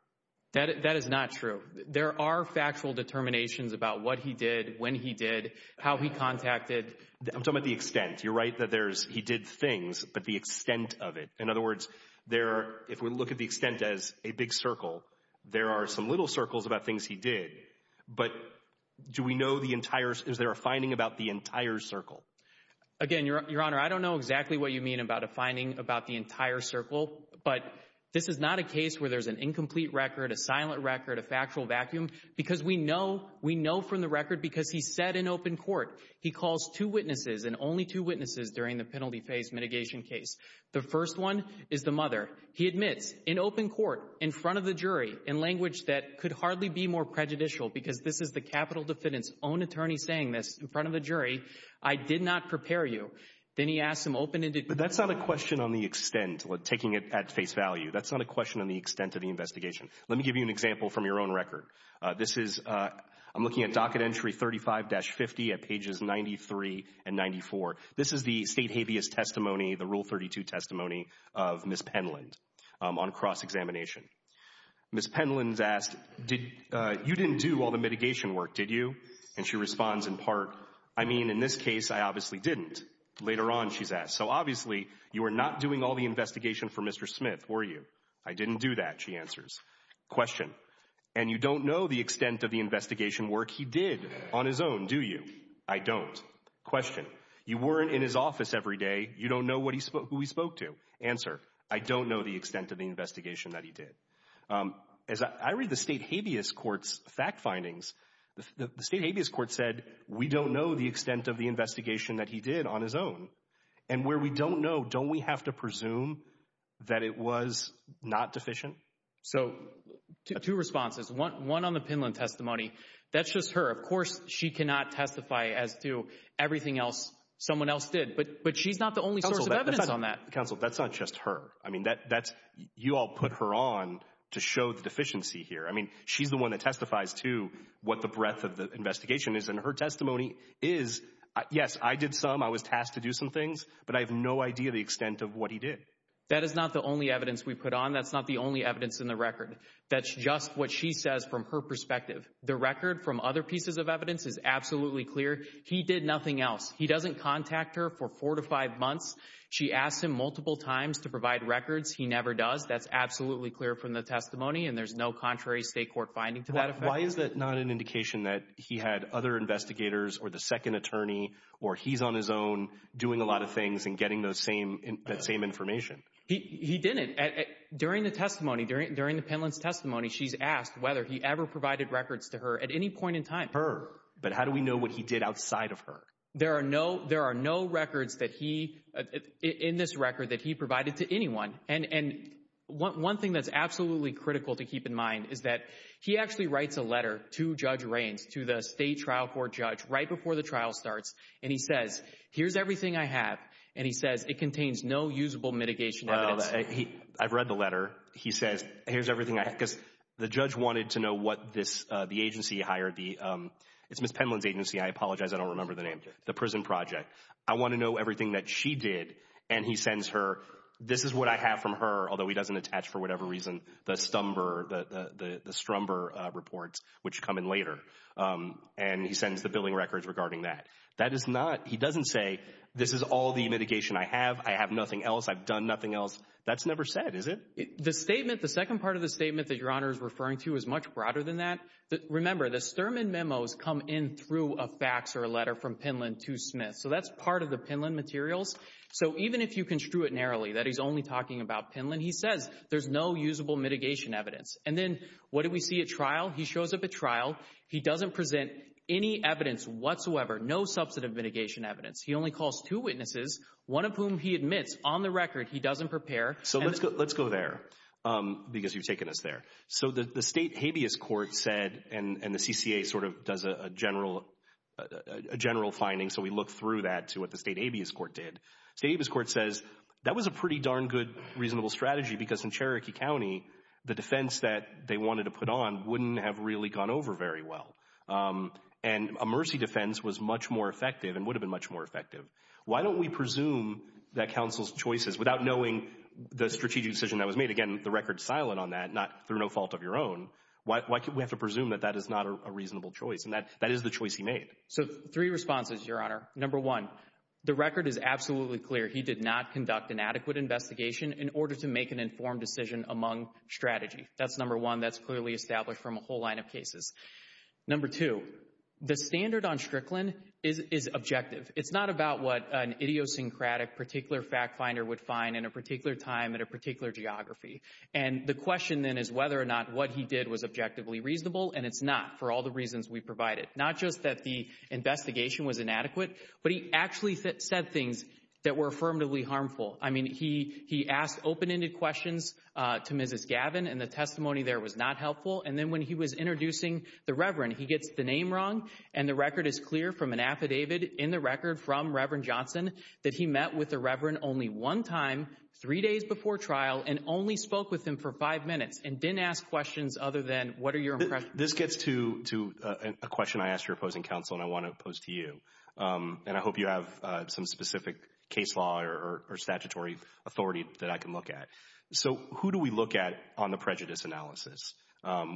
That is not true. There are factual determinations about what he did, when he did, how he contacted. I'm talking about the extent. You're right that he did things, but the extent of it. In other words, if we look at the extent as a big circle, there are some little circles about things he did. But do we know the entire, is there a finding about the entire circle? Again, Your Honor, I don't know exactly what you mean about a finding about the entire circle, but this is not a case where there's an incomplete record, a silent record, a factual vacuum, because we know from the record, because he said in open court, he calls two witnesses and only two witnesses during the penalty phase mitigation case. The first one is the mother. He admits in open court, in front of the jury, in language that could hardly be more prejudicial, because this is the capital defendant's own attorney saying this in front of the jury, I did not prepare you. Then he asked him open and determined. That's not a question on the extent, taking it at face value. That's not a question on the extent of the investigation. Let me give you an example from your own record. I'm looking at docket entry 35-50 at pages 93 and 94. This is the state habeas testimony, the rule 32 testimony of Ms. Penland on cross-examination. Ms. Penland's asked, you didn't do all the mitigation work, did you? And she responds in part, I mean, in this case, I obviously didn't. Later on, she's asked, so obviously, you were not doing all the investigation for Mr. Smith, were you? I didn't do that, she answers. Question, and you don't know the extent of the investigation work he did on his own, do you? I don't. Question, you weren't in his office every day, you don't know who he spoke to. Answer, I don't know the extent of the investigation that he did. As I read the state habeas court's fact findings, the state habeas court said, we don't know the extent of the investigation that he did on his own. And where we don't know, don't we have to presume that it was not deficient? So two responses, one on the Penland testimony, that's just her. Of course, she cannot testify as to everything else someone else did, but she's not the only source of evidence on that. Counsel, that's not just her. I mean, you all put her on to show the deficiency here. I mean, she's the one that testifies to what the breadth of the investigation is. And her testimony is, yes, I did some, I was tasked to do some things, but I have no idea the extent of what he did. That is not the only evidence we put on. That's not the only evidence in the record. That's just what she says from her perspective. The record from other pieces of evidence is absolutely clear. He did nothing else. He doesn't contact her for four to five months. She asked him multiple times to provide records. He never does. That's absolutely clear from the testimony. And there's no contrary state court finding to that. Why is it not an indication that he had other investigators or the second attorney, or he's on his own doing a lot of things and getting those same information? He didn't. During the testimony, during the penalty testimony, she's asked whether he ever provided records to her at any point in time. Her. But how do we know what he did outside of her? There are no records that he, in this record, that he provided to anyone. And one thing that's absolutely critical to keep in mind is that he actually writes a letter to Judge Raines, to the state trial court judge, right before the trial starts. And he says, here's everything I have. And he said, it contains no usable mitigation. I've read the letter. He says, here's everything I have. Because the judge wanted to know what this, the agency hired the, it's Ms. Penland's agency. I apologize. I don't remember the name. The prison project. I want to know everything that she did. And he sends her, this is what I have from her. Although he doesn't attach, for whatever reason, the Stumber, the Strumber reports, which come in later. And he sends the billing records regarding that. That is not. He doesn't say, this is all the mitigation I have. I have nothing else. I've done nothing else. That's never said, is it? The statement, the second part of the statement that Your Honor is referring to is much broader than that. Remember, the Sturman memos come in through a fax or a letter from Penland to Smith. So that's part of the Penland materials. So even if you can screw it narrowly, that he's only talking about Penland, he says there's no usable mitigation evidence. And then what do we see at trial? He shows up at trial. He doesn't present any evidence whatsoever. No substantive mitigation evidence. He only calls two witnesses, one of whom he admits on the record he doesn't prepare. So let's go there because you've taken us there. So the state habeas court said, and the CCA sort of does a general finding. So we look through that to what the state habeas court did. State habeas court says, that was a pretty darn good reasonable strategy because in Cherokee County, the defense that they wanted to put on wouldn't have really gone over very well. And a mercy defense was much more effective and would have been much more effective. Why don't we presume that counsel's choices without knowing the strategic decision that was made, again, the record's silent on that, not through no fault of your own. Why do we have to presume that that is not a reasonable choice? And that is the choice he made. So three responses, Your Honor. Number one, the record is absolutely clear. He did not conduct an adequate investigation in order to make an informed decision among strategy. That's number one. That's clearly established from a whole line of cases. Number two, the standard on Strickland is objective. It's not about what an idiosyncratic particular fact finder would find in a particular time at a particular geography. And the question then is whether or not what he did was objectively reasonable. And it's not for all the reasons we provided. Not just that the investigation was inadequate, but he actually said things that were affirmatively harmful. I mean, he asked open-ended questions to Mrs. Gavin and the testimony there was not helpful. And then when he was introducing the Reverend, he gets the name wrong. And the record is clear from an affidavit in the record from Reverend Johnson that he met with the Reverend only one time, three days before trial, and only spoke with him for five minutes and didn't ask questions other than, what are your impressions? This gets to a question I asked your opposing counsel and I want to pose to you. And I hope you have some specific case law or statutory authority that I can look at. So who do we look at on the prejudice analysis?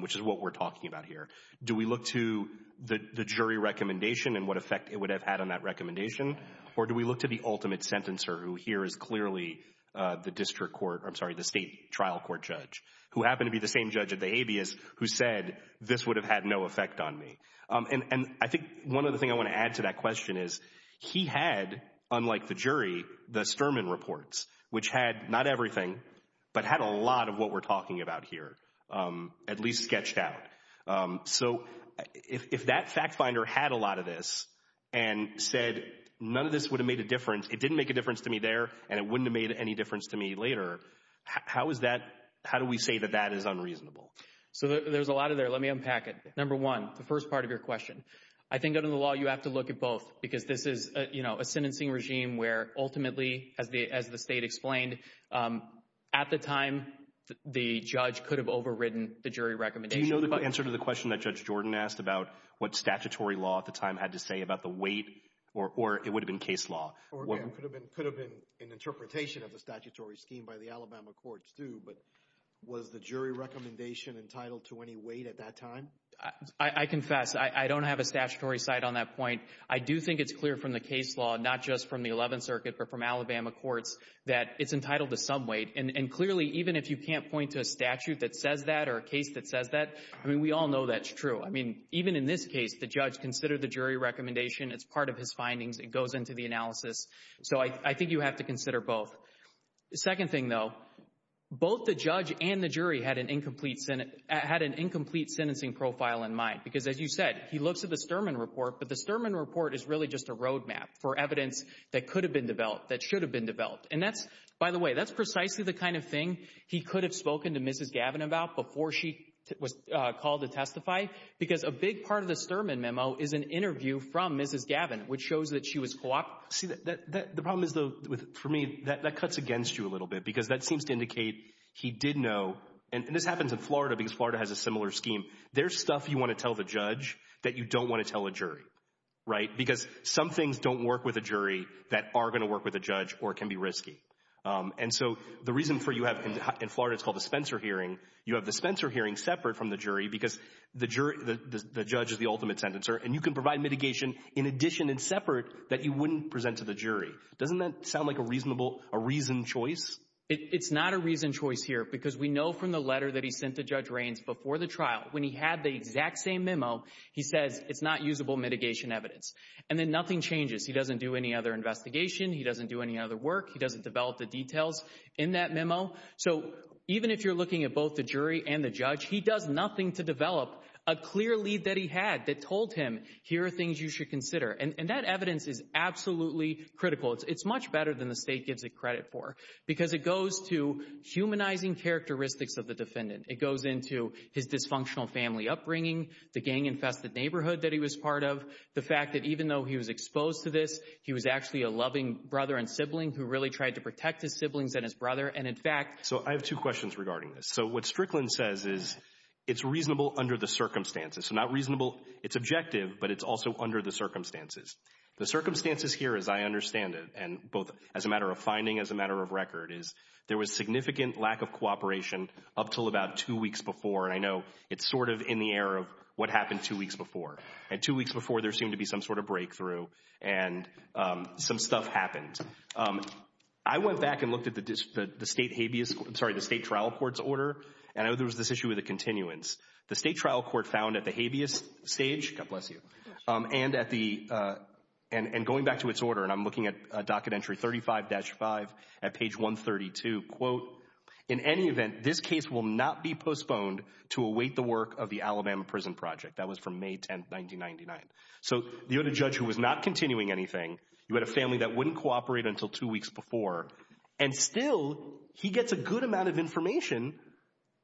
Which is what we're talking about here. Do we look to the jury recommendation and what effect it would have had on that recommendation? Or do we look to the ultimate sentencer who here is clearly the district court, I'm sorry, the state trial court judge, who happened to be the same judge at the habeas who said this would have had no effect on me. And I think one of the things I want to add to that question is he had, unlike the jury, the Sturman reports, which had not everything, but had a lot of what we're talking about here. At least sketched out. So if that fact finder had a lot of this and said, none of this would have made a difference. It didn't make a difference to me there and it wouldn't have made any difference to me later. How is that? How do we say that that is unreasonable? So there's a lot of there. Let me unpack it. Number one, the first part of your question. I think under the law, you have to look at both because this is a sentencing regime where ultimately, as the state explained, at the time, the judge could have overridden the jury recommendation. Do you know the answer to the question that Judge Jordan asked about what statutory law at the time had to say about the weight? Or it would have been case law. Could have been an interpretation of the statutory scheme by the Alabama courts, too. But was the jury recommendation entitled to any weight at that time? I confess, I don't have a statutory side on that point. I do think it's clear from the case law, not just from the 11th Circuit, but from Alabama courts, that it's entitled to some weight. And clearly, even if you can't point to a statute that says that or a case that says that, I mean, we all know that's true. I mean, even in this case, the judge considered the jury recommendation as part of his findings. It goes into the analysis. So I think you have to consider both. Second thing, though, both the judge and the jury had an incomplete sentencing profile in mind. Because as you said, he looks at the Sturman report, but the Sturman report is really just a roadmap for evidence that could have been developed, that should have been developed. And that's, by the way, that's precisely the kind of thing he could have spoken to Mrs. Gavin about before she was called to testify, because a big part of the Sturman memo is an interview from Mrs. Gavin, which shows that she was co-op. See, the problem is, for me, that cuts against you a little bit, because that seems to indicate he did know, and this happens in Florida, because Florida has a similar scheme. There's stuff you want to tell the judge that you don't want to tell a jury, right? Because some things don't work with a jury that are going to work with a judge or can be risky. And so the reason for you have, in Florida, it's called a Spencer hearing. You have the Spencer hearing separate from the jury, because the judge is the ultimate sentencer, and you can provide mitigation in addition and separate that you wouldn't present to the jury. Doesn't that sound like a reasoned choice? It's not a reasoned choice here, because we know from the letter that he sent to Judge Raines before the trial, when he had the exact same memo, he said, it's not usable mitigation evidence. And then nothing changes. He doesn't do any other investigation. He doesn't do any other work. He doesn't develop the details in that memo. So even if you're looking at both the jury and the judge, he does nothing to develop a clear lead that he had that told him, here are things you should consider. And that evidence is absolutely critical. It's much better than the state gives it credit for, because it goes to humanizing characteristics of the defendant. It goes into his dysfunctional family upbringing, the gang-infested neighborhood that he was part of, the fact that even though he was exposed to this, he was actually a loving brother and sibling who really tried to protect his siblings and his brother. And in fact- So I have two questions regarding this. So what Strickland says is, it's reasonable under the circumstances. So not reasonable, it's objective, but it's also under the circumstances. The circumstances here, as I understand it, and both as a matter of finding, as a matter of record, is there was significant lack of cooperation up till about two weeks before. And I know it's sort of in the air of what happened two weeks before. And two weeks before, there seemed to be some sort of breakthrough and some stuff happened. I went back and looked at the state habeas, I'm sorry, the state trial court's order, and there was this issue of the continuance. The state trial court found at the habeas stage, God bless you, and going back to its order, and I'm looking at a docket entry 35-5 at page 132, quote, in any event, this case will not be postponed to await the work of the Alabama Prison Project. That was from May 10th, 1999. So you had a judge who was not continuing anything, you had a family that wouldn't cooperate until two weeks before, and still he gets a good amount of information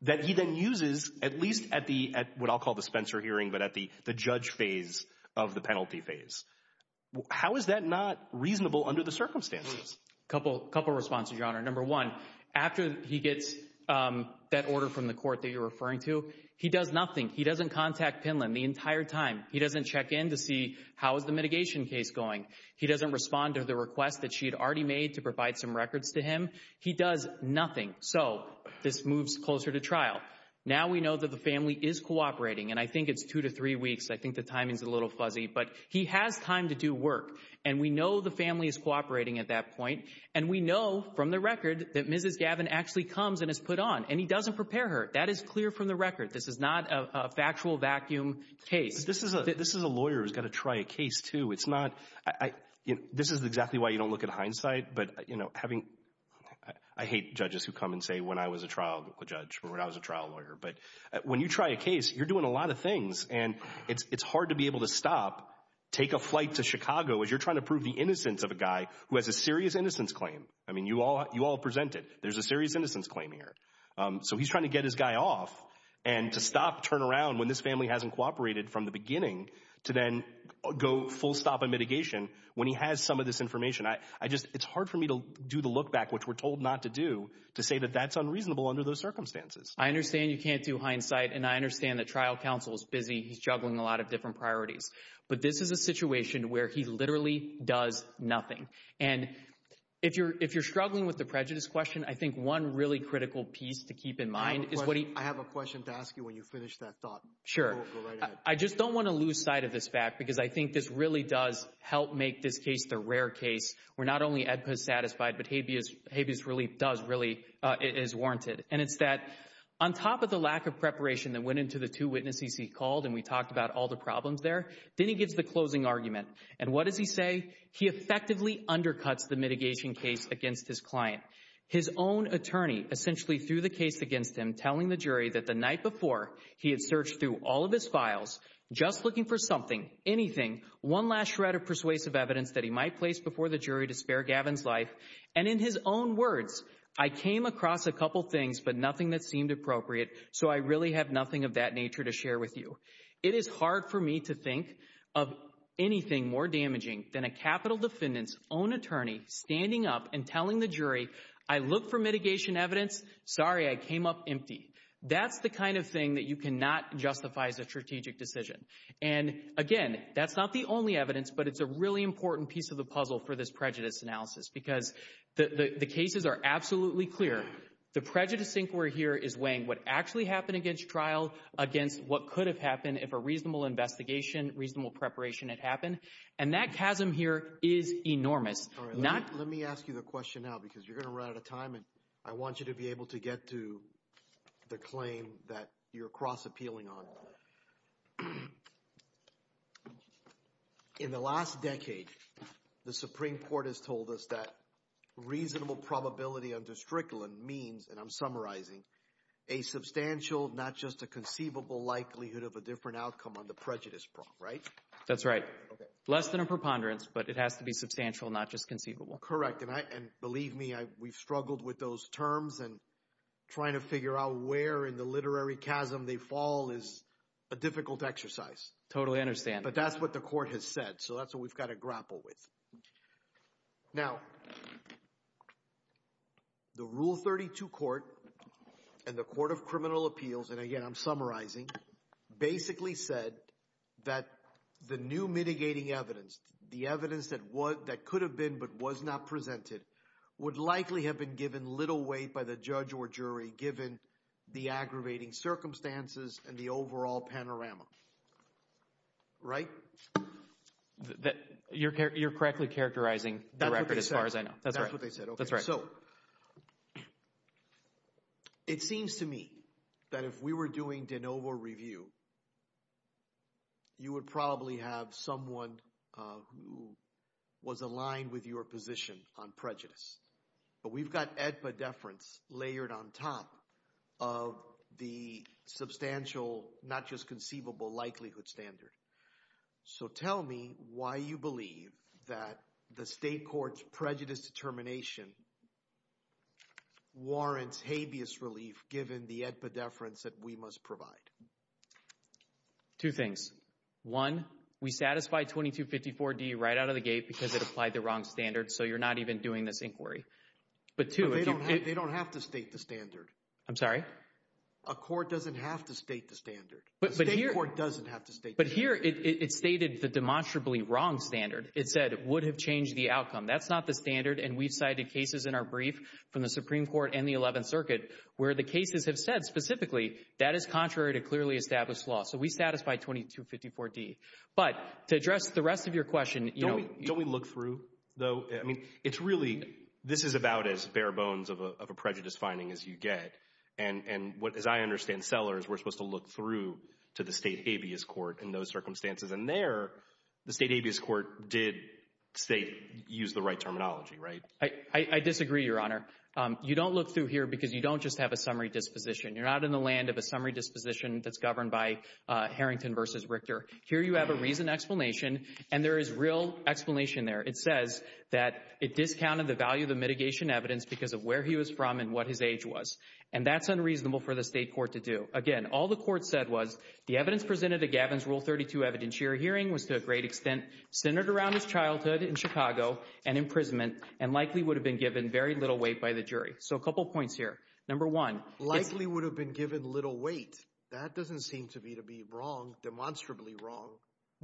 that he then uses at least at the, at what I'll call the Spencer hearing, but at the judge phase of the penalty phase. How is that not reasonable under the circumstances? A couple of responses, Your Honor. Number one, after he gets that order from the court that you're referring to, he does nothing. He doesn't contact Penland the entire time. He doesn't check in to see how is the mitigation case going. He doesn't respond to the request that she had already made to provide some records to him. He does nothing. So this moves closer to trial. Now we know that the family is cooperating, and I think it's two to three weeks. I think the timing's a little fuzzy, but he has time to do work, and we know the family is cooperating at that point, and we know from the record that Mrs. Gavin actually comes and is put on, and he doesn't prepare her. That is clear from the record. This is not a factual vacuum case. This is a lawyer who's gonna try a case too. This is exactly why you don't look at hindsight, but having, I hate judges who come and say when I was a trial judge, when I was a trial lawyer, but when you try a case, you're doing a lot of things, and it's hard to be able to stop, take a flight to Chicago as you're trying to prove the innocence of a guy who has a serious innocence claim. I mean, you all present it. There's a serious innocence claim here. So he's trying to get his guy off, and to stop, turn around when this family hasn't cooperated from the beginning to then go full stop of mitigation when he has some of this information. I just, it's hard for me to do the look back, which we're told not to do, to say that that's unreasonable under those circumstances. I understand you can't do hindsight, and I understand that trial counsel is busy. He's juggling a lot of different priorities, but this is a situation where he literally does nothing, and if you're struggling with the prejudice question, I think one really critical piece to keep in mind is what he- I have a question to ask you when you finish that thought. Sure, I just don't want to lose sight of this fact, because I think this really does help make this case the rare case where not only EDPA is satisfied, but habeas relief does really, is warranted, and it's that on top of the lack of preparation that went into the two witnesses he called, and we talked about all the problems there, then he gives the closing argument, and what does he say? He effectively undercuts the mitigation case against his client. His own attorney, essentially through the case against him, telling the jury that the night before he had searched through all of his files, just looking for something, anything, one last shred of persuasive evidence that he might place before the jury to spare Gavin's life, and in his own words, I came across a couple things, but nothing that seemed appropriate, so I really have nothing of that nature to share with you. It is hard for me to think of anything more damaging than a capital defendant's own attorney standing up and telling the jury, I looked for mitigation evidence, sorry, I came up empty. That's the kind of thing that you cannot justify as a strategic decision, and again, that's not the only evidence, but it's a really important piece of the puzzle for this prejudice analysis, because the cases are absolutely clear. The prejudice inquiry here is weighing what actually happened against trial against what could have happened if a reasonable investigation, reasonable preparation had happened, and that chasm here is enormous. Let me ask you the question now, because you're gonna run out of time, I want you to be able to get to the claim that you're cross-appealing on. In the last decade, the Supreme Court has told us that reasonable probability of destriction means, and I'm summarizing, a substantial, not just a conceivable likelihood of a different outcome on the prejudice front, right? That's right. Less than a preponderance, but it has to be substantial, not just conceivable. Correct, and believe me, we've struggled with those terms, and trying to figure out where in the literary chasm they fall is a difficult exercise. Totally understand. But that's what the court has said, so that's what we've got to grapple with. Now, the Rule 32 Court and the Court of Criminal Appeals, and again, I'm summarizing, basically said that the new mitigating evidence, the evidence that could have been but was not presented, would likely have been given little weight by the judge or jury, given the aggravating circumstances and the overall panorama, right? You're correctly characterizing the record as far as I know. That's what they said, okay. So, it seems to me that if we were doing de novo review, you would probably have someone who was aligned with your position on prejudice. But we've got epidefference layered on top of the substantial, not just conceivable likelihood standard. So, tell me why you believe that the state court's prejudice determination warrants habeas relief given the epidefference that we must provide. Two things. One, we satisfy 2254D right out of the gate because it applied the wrong standard. So, you're not even doing this inquiry. But two- They don't have to state the standard. I'm sorry? A court doesn't have to state the standard. But here it stated the demonstrably wrong standard. It said it would have changed the outcome. That's not the standard. And we cited cases in our brief from the Supreme Court and the 11th Circuit where the cases have said specifically that is contrary to clearly established law. So, we satisfy 2254D. But to address the rest of your question- Don't we look through, though? I mean, it's really, this is about as bare bones of a prejudice finding as you get. And as I understand sellers, we're supposed to look through to the state habeas court in those circumstances. And there, the state habeas court did, say, use the right terminology, right? I disagree, Your Honor. You don't look through here because you don't just have a summary disposition. You're not in the land of a summary disposition that's governed by Harrington versus Richter. Here you have a reasoned explanation, and there is real explanation there. It says that it discounted the value of the mitigation evidence because of where he was from and what his age was. And that's unreasonable for the state court to do. Again, all the court said was the evidence presented at Gavin's Rule 32 evidence here hearing was to a great extent centered around his childhood in Chicago and imprisonment and likely would have been given very little weight by the jury. So, a couple of points here. Number one- Likely would have been given little weight. That doesn't seem to me to be wrong, demonstrably wrong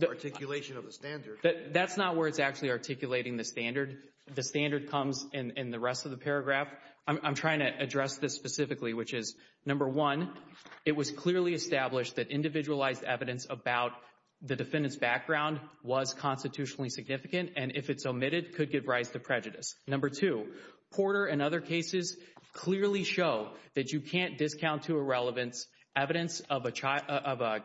articulation of the standard. That's not where it's actually articulating the standard. The standard comes in the rest of the paragraph. I'm trying to address this specifically, which is number one, it was clearly established that individualized evidence about the defendant's background was constitutionally significant. And if it's omitted, could give rise to prejudice. Number two, Porter and other cases clearly show that you can't discount to a relevance evidence of a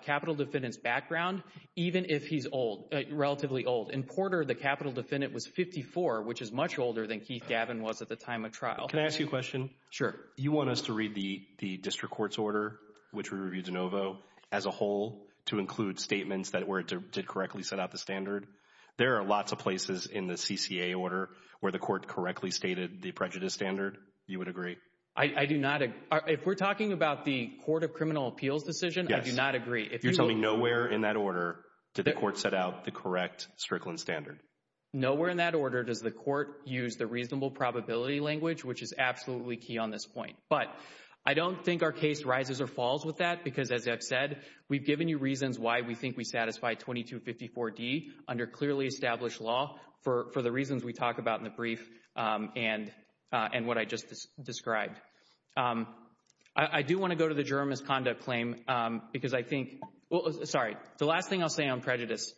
capital defendant's background, even if he's old, relatively old. In Porter, the capital defendant was 54, which is much older than Keith Gavin was at the time of trial. Can I ask you a question? Sure. You want us to read the district court's order, which we reviewed de novo as a whole to include statements that were, did correctly set out the standard. There are lots of places in the CCA order where the court correctly stated the prejudice standard. You would agree? I do not. If we're talking about the court of criminal appeals decision, I do not agree. If you're telling me nowhere in that order did the court set out the correct Strickland standard. Nowhere in that order does the court use the reasonable probability language, which is absolutely key on this point. But I don't think our case rises or falls with that because as I've said, we've given you reasons why we think we satisfy 2254D under clearly established law for the reasons we talked about in the brief and what I just described. I do wanna go to the juror misconduct claim because I think, sorry, the last thing I'll say on prejudice,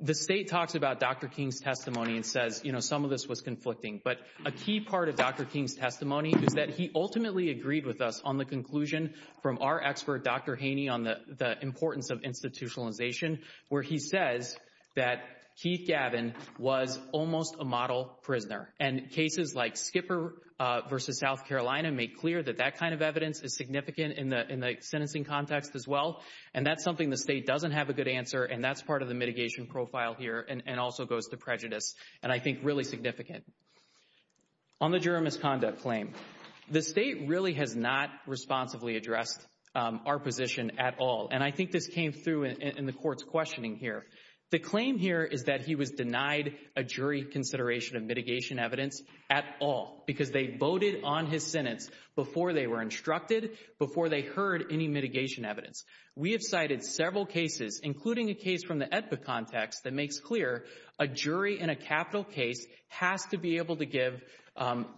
the state talks about Dr. King's testimony and says, you know, some of this was conflicting, but a key part of Dr. King's testimony is that he ultimately agreed with us on the conclusion from our expert, Dr. Haney, on the importance of institutionalization, where he says that Keith Gavin was almost a model prisoner and cases like Skipper versus South Carolina make clear that that kind of evidence is significant in the sentencing context as well and that's something the state doesn't have a good answer and that's part of the mitigation profile here and also goes to prejudice and I think really significant. On the juror misconduct claim, the state really has not responsibly addressed our position at all and I think this came through in the court's questioning here. The claim here is that he was denied a jury's consideration of mitigation evidence at all because they voted on his sentence before they were instructed, before they heard any mitigation evidence. We have cited several cases, including a case from the ETPA context that makes clear a jury in a capital case has to be able to give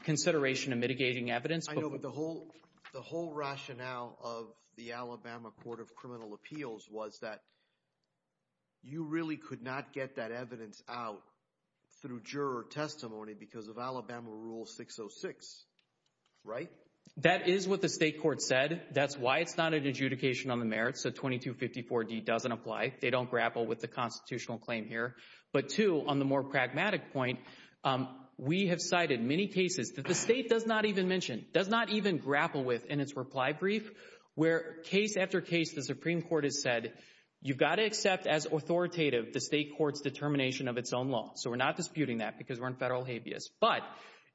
consideration of mitigating evidence. I know, but the whole rationale of the Alabama Court of Criminal Appeals was that you really could not get that evidence out through juror testimony because of Alabama Rule 606, right? That is what the state court said. That's why it's not an adjudication on the merits. The 2254D doesn't apply. They don't grapple with the constitutional claim here. But two, on the more pragmatic point, we have cited many cases that the state does not even mention, does not even grapple with in its reply brief where case after case the Supreme Court has said, you've got to accept as authoritative the state court's determination of its own law. So we're not disputing that because we're in federal habeas, but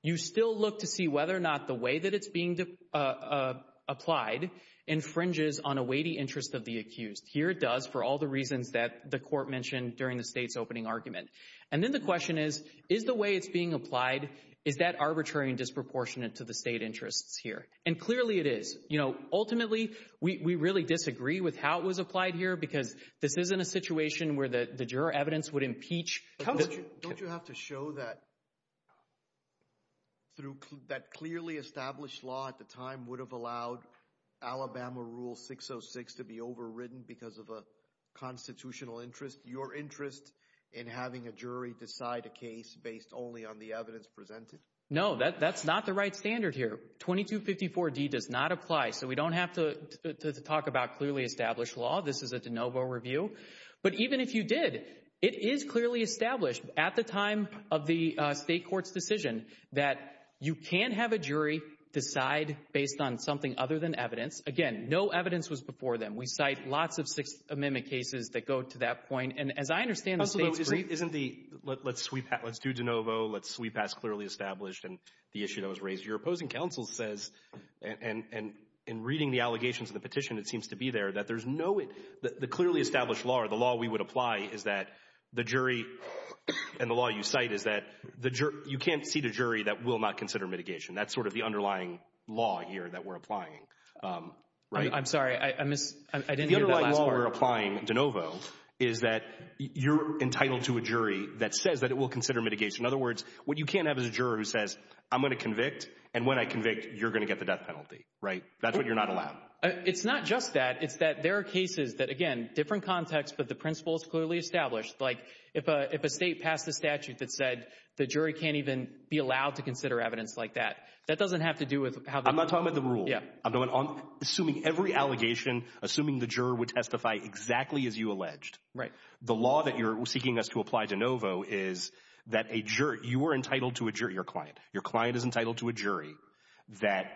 you still look to see whether or not the way that it's being applied infringes on a weighty interest of the accused. Here it does for all the reasons that the court mentioned during the state's opening argument. And then the question is, is the way it's being applied, is that arbitrary and disproportionate to the state interest here? And clearly it is. Ultimately, we really disagree with how it was applied here because this isn't a situation where the juror evidence would impeach. Don't you have to show that through that clearly established law at the time would have allowed Alabama Rule 606 to be overridden because of a constitutional interest, your interest in having a jury decide a case based only on the evidence presented? No, that's not the right standard here. 2254D does not apply. So we don't have to talk about clearly established law. This is a de novo review. But even if you did, it is clearly established at the time of the state court's decision that you can't have a jury decide based on something other than evidence. Again, no evidence was before them. We cite lots of Sixth Amendment cases that go to that point. And as I understand the state's brief- Isn't the, let's do de novo, let's sweep past clearly established and the issue that was raised. Your opposing counsel says, and in reading the allegations of the petition, it seems to be there, that there's no, the clearly established law or the law we would apply is that the jury and the law you cite is that you can't see the jury that will not consider mitigation. That's sort of the underlying law here that we're applying, right? I'm sorry, I missed, I didn't hear the last part. The underlying law we're applying de novo is that you're entitled to a jury that says that it will consider mitigation. In other words, what you can't have is a juror who says, I'm gonna convict. And when I convict, you're gonna get the death penalty, right? That's what you're not allowed. It's not just that. It's that there are cases that, again, different context, but the principle is clearly established. Like if a state passed a statute that said the jury can't even be allowed to consider evidence like that, that doesn't have to do with how- I'm not talking about the rule. Yeah. I'm assuming every allegation, assuming the juror would testify exactly as you alleged. Right. The law that you're seeking us to apply de novo is that a juror, you are entitled to a jury, your client. Your client is entitled to a jury that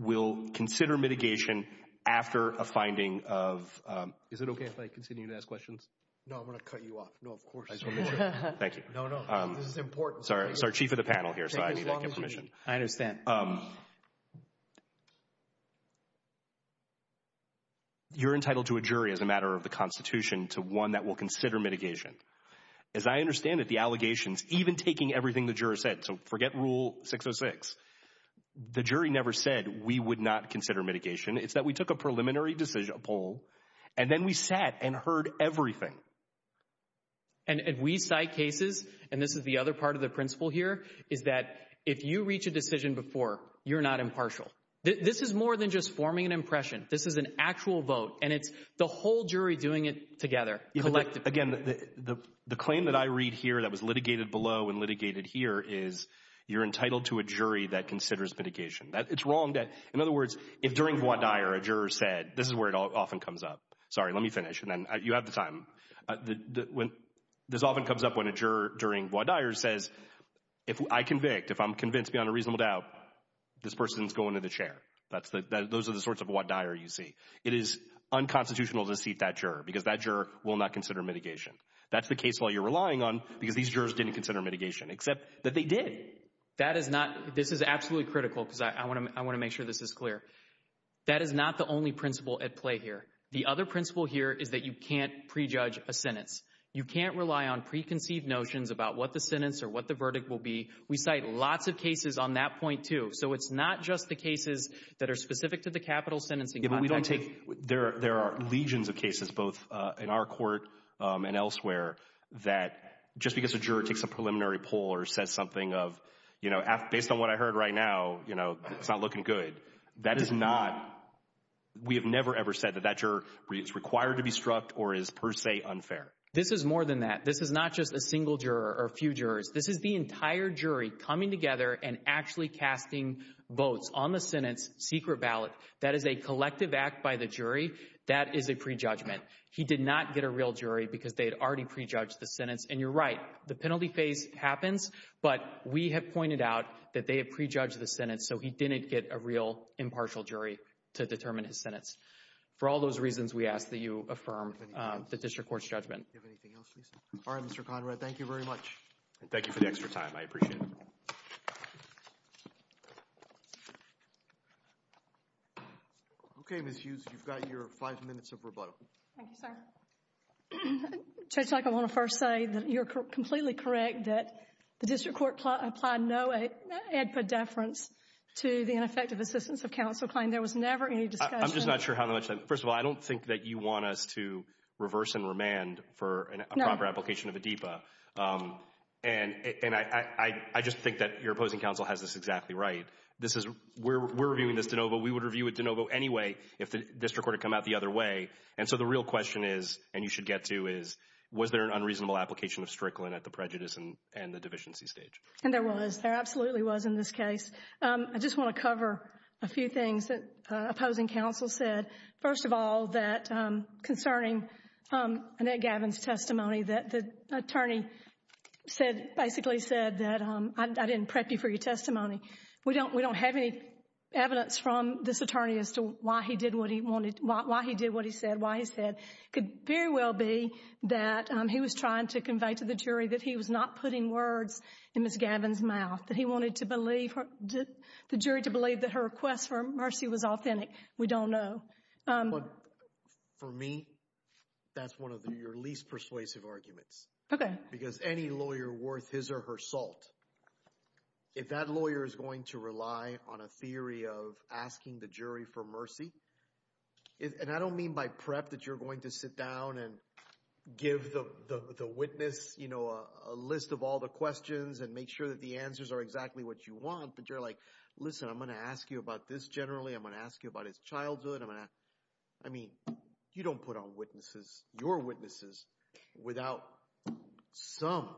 will consider mitigation after a finding of- Is it okay if I continue to ask questions? No, I'm gonna cut you off. No, of course not. Thank you. No, no, it's important. Sorry, sorry, chief of the panel here. So I need to get permission. I understand. You're entitled to a jury as a matter of the constitution to one that will consider mitigation. As I understand it, the allegations, even taking everything the juror said, the jury never said we would not consider mitigation. It's that we took a preliminary decision, a poll, and then we sat and heard everything. And as we cite cases, and this is the other part of the principle here, is that if you reach a decision before, you're not impartial. This is more than just forming an impression. This is an actual vote. And it's the whole jury doing it together. Again, the claim that I read here that was litigated below and litigated here is you're entitled to a jury that considers mitigation. It's wrong that, in other words, if during Guadire, a juror said, this is where it often comes up. Sorry, let me finish. And then you have the time. This often comes up when a juror during Guadire says, if I convict, if I'm convinced beyond a reasonable doubt, this person's going to the chair. Those are the sorts of Guadire you see. It is unconstitutional to seat that juror because that juror will not consider mitigation. That's the case while you're relying on because these jurors didn't consider mitigation, except that they did. This is absolutely critical because I want to make sure this is clear. That is not the only principle at play here. The other principle here is that you can't prejudge a sentence. You can't rely on preconceived notions about what the sentence or what the verdict will be. We cite lots of cases on that point too. So it's not just the cases that are specific to the capital sentencing. If we don't take... There are legions of cases, both in our court and elsewhere, that just because a juror takes a preliminary poll or said something of, based on what I heard right now, it's not looking good. That is not... We have never ever said that that juror is required to be struck or is per se unfair. This is more than that. This is not just a single juror or a few jurors. This is the entire jury coming together and actually casting votes on the sentence, secret ballots. That is a collective act by the jury. That is a prejudgment. He did not get a real jury because they had already prejudged the sentence. And you're right. The penalty phase happens, but we have pointed out that they have prejudged the sentence so he didn't get a real impartial jury to determine his sentence. For all those reasons, we ask that you affirm the district court's judgment. Do you have anything else, Lisa? All right, Mr. Conrad. Thank you very much. Thank you for the extra time. I appreciate it. Okay, Ms. Hughes, you've got your five minutes of rebuttal. Thank you, sir. Judge Tucker, I want to first say that you're completely correct that the district court applied no ad for deference. To the ineffective assistance of counsel claim, there was never any discussion. I'm just not sure how much. First of all, I don't think that you want us to reverse and remand for a proper application of a DEPA. And I just think that your opposing counsel has this exactly right. This is, we're reviewing this de novo. We would review it de novo anyway if the district court had come out the other way. And so the real question is, and you should get to is, was there an unreasonable application of Strickland at the prejudice and the deficiency stage? And there was. There absolutely was in this case. I just want to cover a few things that opposing counsel said. First of all, that concerning Annette Gavin's testimony, that the attorney basically said that I didn't prep you for your testimony. We don't have any evidence from this attorney as to why he did what he wanted, why he did what he said, why he said could very well be that he was trying to convey to the jury that he was not putting words in Ms. Gavin's mouth, that he wanted the jury to believe that her request for mercy was authentic. We don't know. For me, that's one of your least persuasive arguments. Okay. Because any lawyer worth his or her salt, if that lawyer is going to rely on a theory of asking the jury for mercy, and I don't mean by prep that you're going to sit down and give the witness a list of all the questions and make sure that the answers are exactly what you want, but you're like, listen, I'm going to ask you about this generally. I'm going to ask you about his childhood. I mean, you don't put on witnesses, your witnesses, without some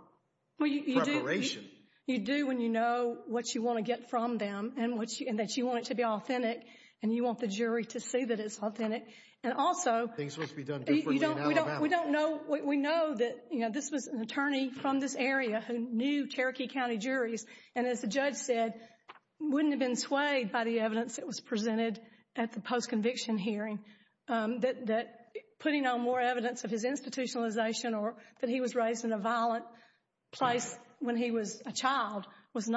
preparation. Well, you do when you know what you want to get from them and that you want it to be authentic and you want the jury to see that it's authentic. And also, we know that this was an attorney from this area who knew Cherokee County juries. And as the judge said, wouldn't have been swayed by the evidence that was presented at the post-conviction hearing, that putting on more evidence of his institutionalization or that he was raised in a violent place when he was a child would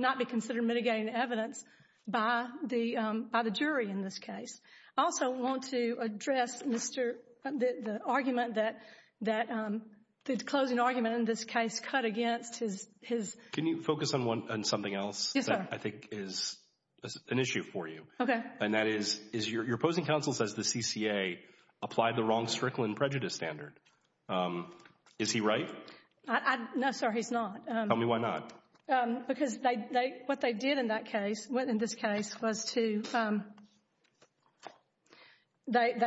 not be considered mitigating evidence by the jury in this case. I also want to address the argument that the closing argument in this case cut against his- Can you focus on something else that I think is an issue for you? Okay. And that is your opposing counsel says the CCA applied the wrong Strickland prejudice standard. Is he right? No, sir, he's not. Tell me why not. Because what they did in that case, what in this case was to,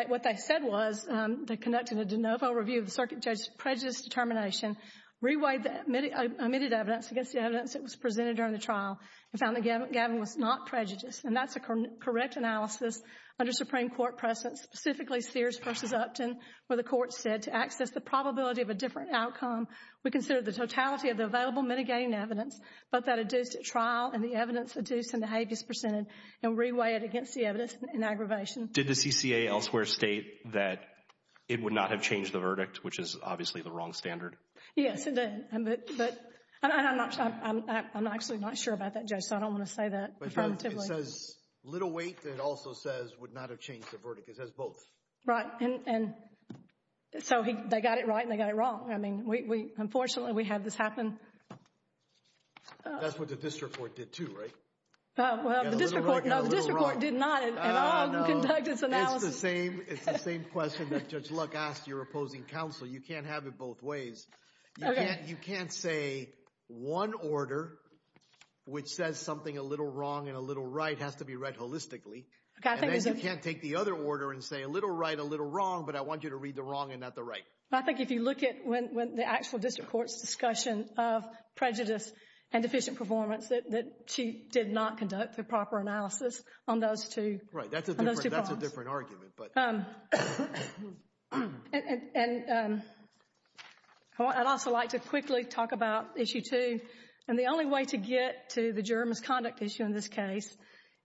what they said was they conducted a de novo review of the circuit judge's prejudice determination, reweighed the omitted evidence against the evidence that was presented during the trial and found the gathering was not prejudiced. And that's the correct analysis under Supreme Court precedent, specifically Sears v. Upton, where the court said to access the probability of a different outcome, we consider the totality of the available mitigating evidence, both that adduced at trial and the evidence adduced in the Hague is presented and reweighed against the evidence in aggravation. Did the CCA elsewhere state that it would not have changed the verdict, which is obviously the wrong standard? Yes, it did. I'm actually not sure about that, Joe, so I don't wanna say that. It says little weight, but it also says would not have changed the verdict. It has both. Right, and so they got it right and they got it wrong. I mean, unfortunately we had this happen. That's what the district court did too, right? Well, the district court did not in all the conductance analysis. It's the same question that Judge Luck asked your opposing counsel. You can't have it both ways. You can't say one order which says something a little wrong and a little right has to be read holistically. And then you can't take the other order and say a little right, a little wrong, but I want you to read the wrong and not the right. I think if you look at when the actual district court's discussion of prejudice and deficient performance that she did not conduct the proper analysis on those two. Right, that's a different argument. And I'd also like to quickly talk about issue two. And the only way to get to the juror misconduct issue in this case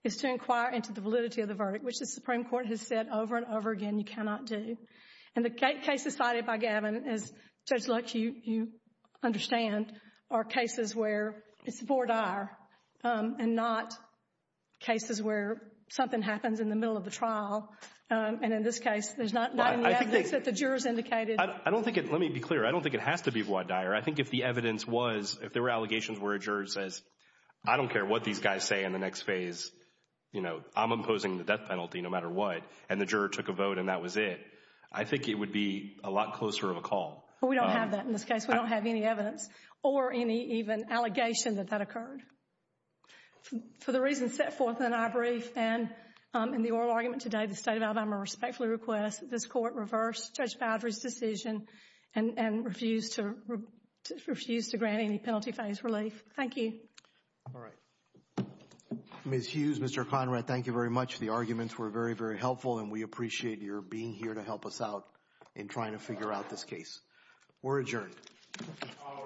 is to inquire into the validity of the verdict, which the Supreme Court has said over and over again, you cannot do. And the case decided by Gavin is Judge Luck, you understand, are cases where it's voir dire and not cases where something happens in the middle of the trial. And in this case, there's not any evidence that the jurors indicated. I don't think it, let me be clear. I don't think it has to be voir dire. I think if the evidence was, if there were allegations where a juror says, I don't care what these guys say in the next phase, you know, I'm imposing the death penalty no matter what. And the juror took a vote and that was it. I think it would be a lot closer of a call. But we don't have that in this case. We don't have any evidence. Or any even allegation that that occurred. For the reasons set forth in our brief and in the oral argument today, the state of Alabama respectfully requests this court reverse Judge Favre's decision and refuse to grant any penalty for his release. Thank you. All right. Ms. Hughes, Mr. Finerad, thank you very much. The arguments were very, very helpful and we appreciate your being here to help us out in trying to figure out this case. We're adjourned. All right.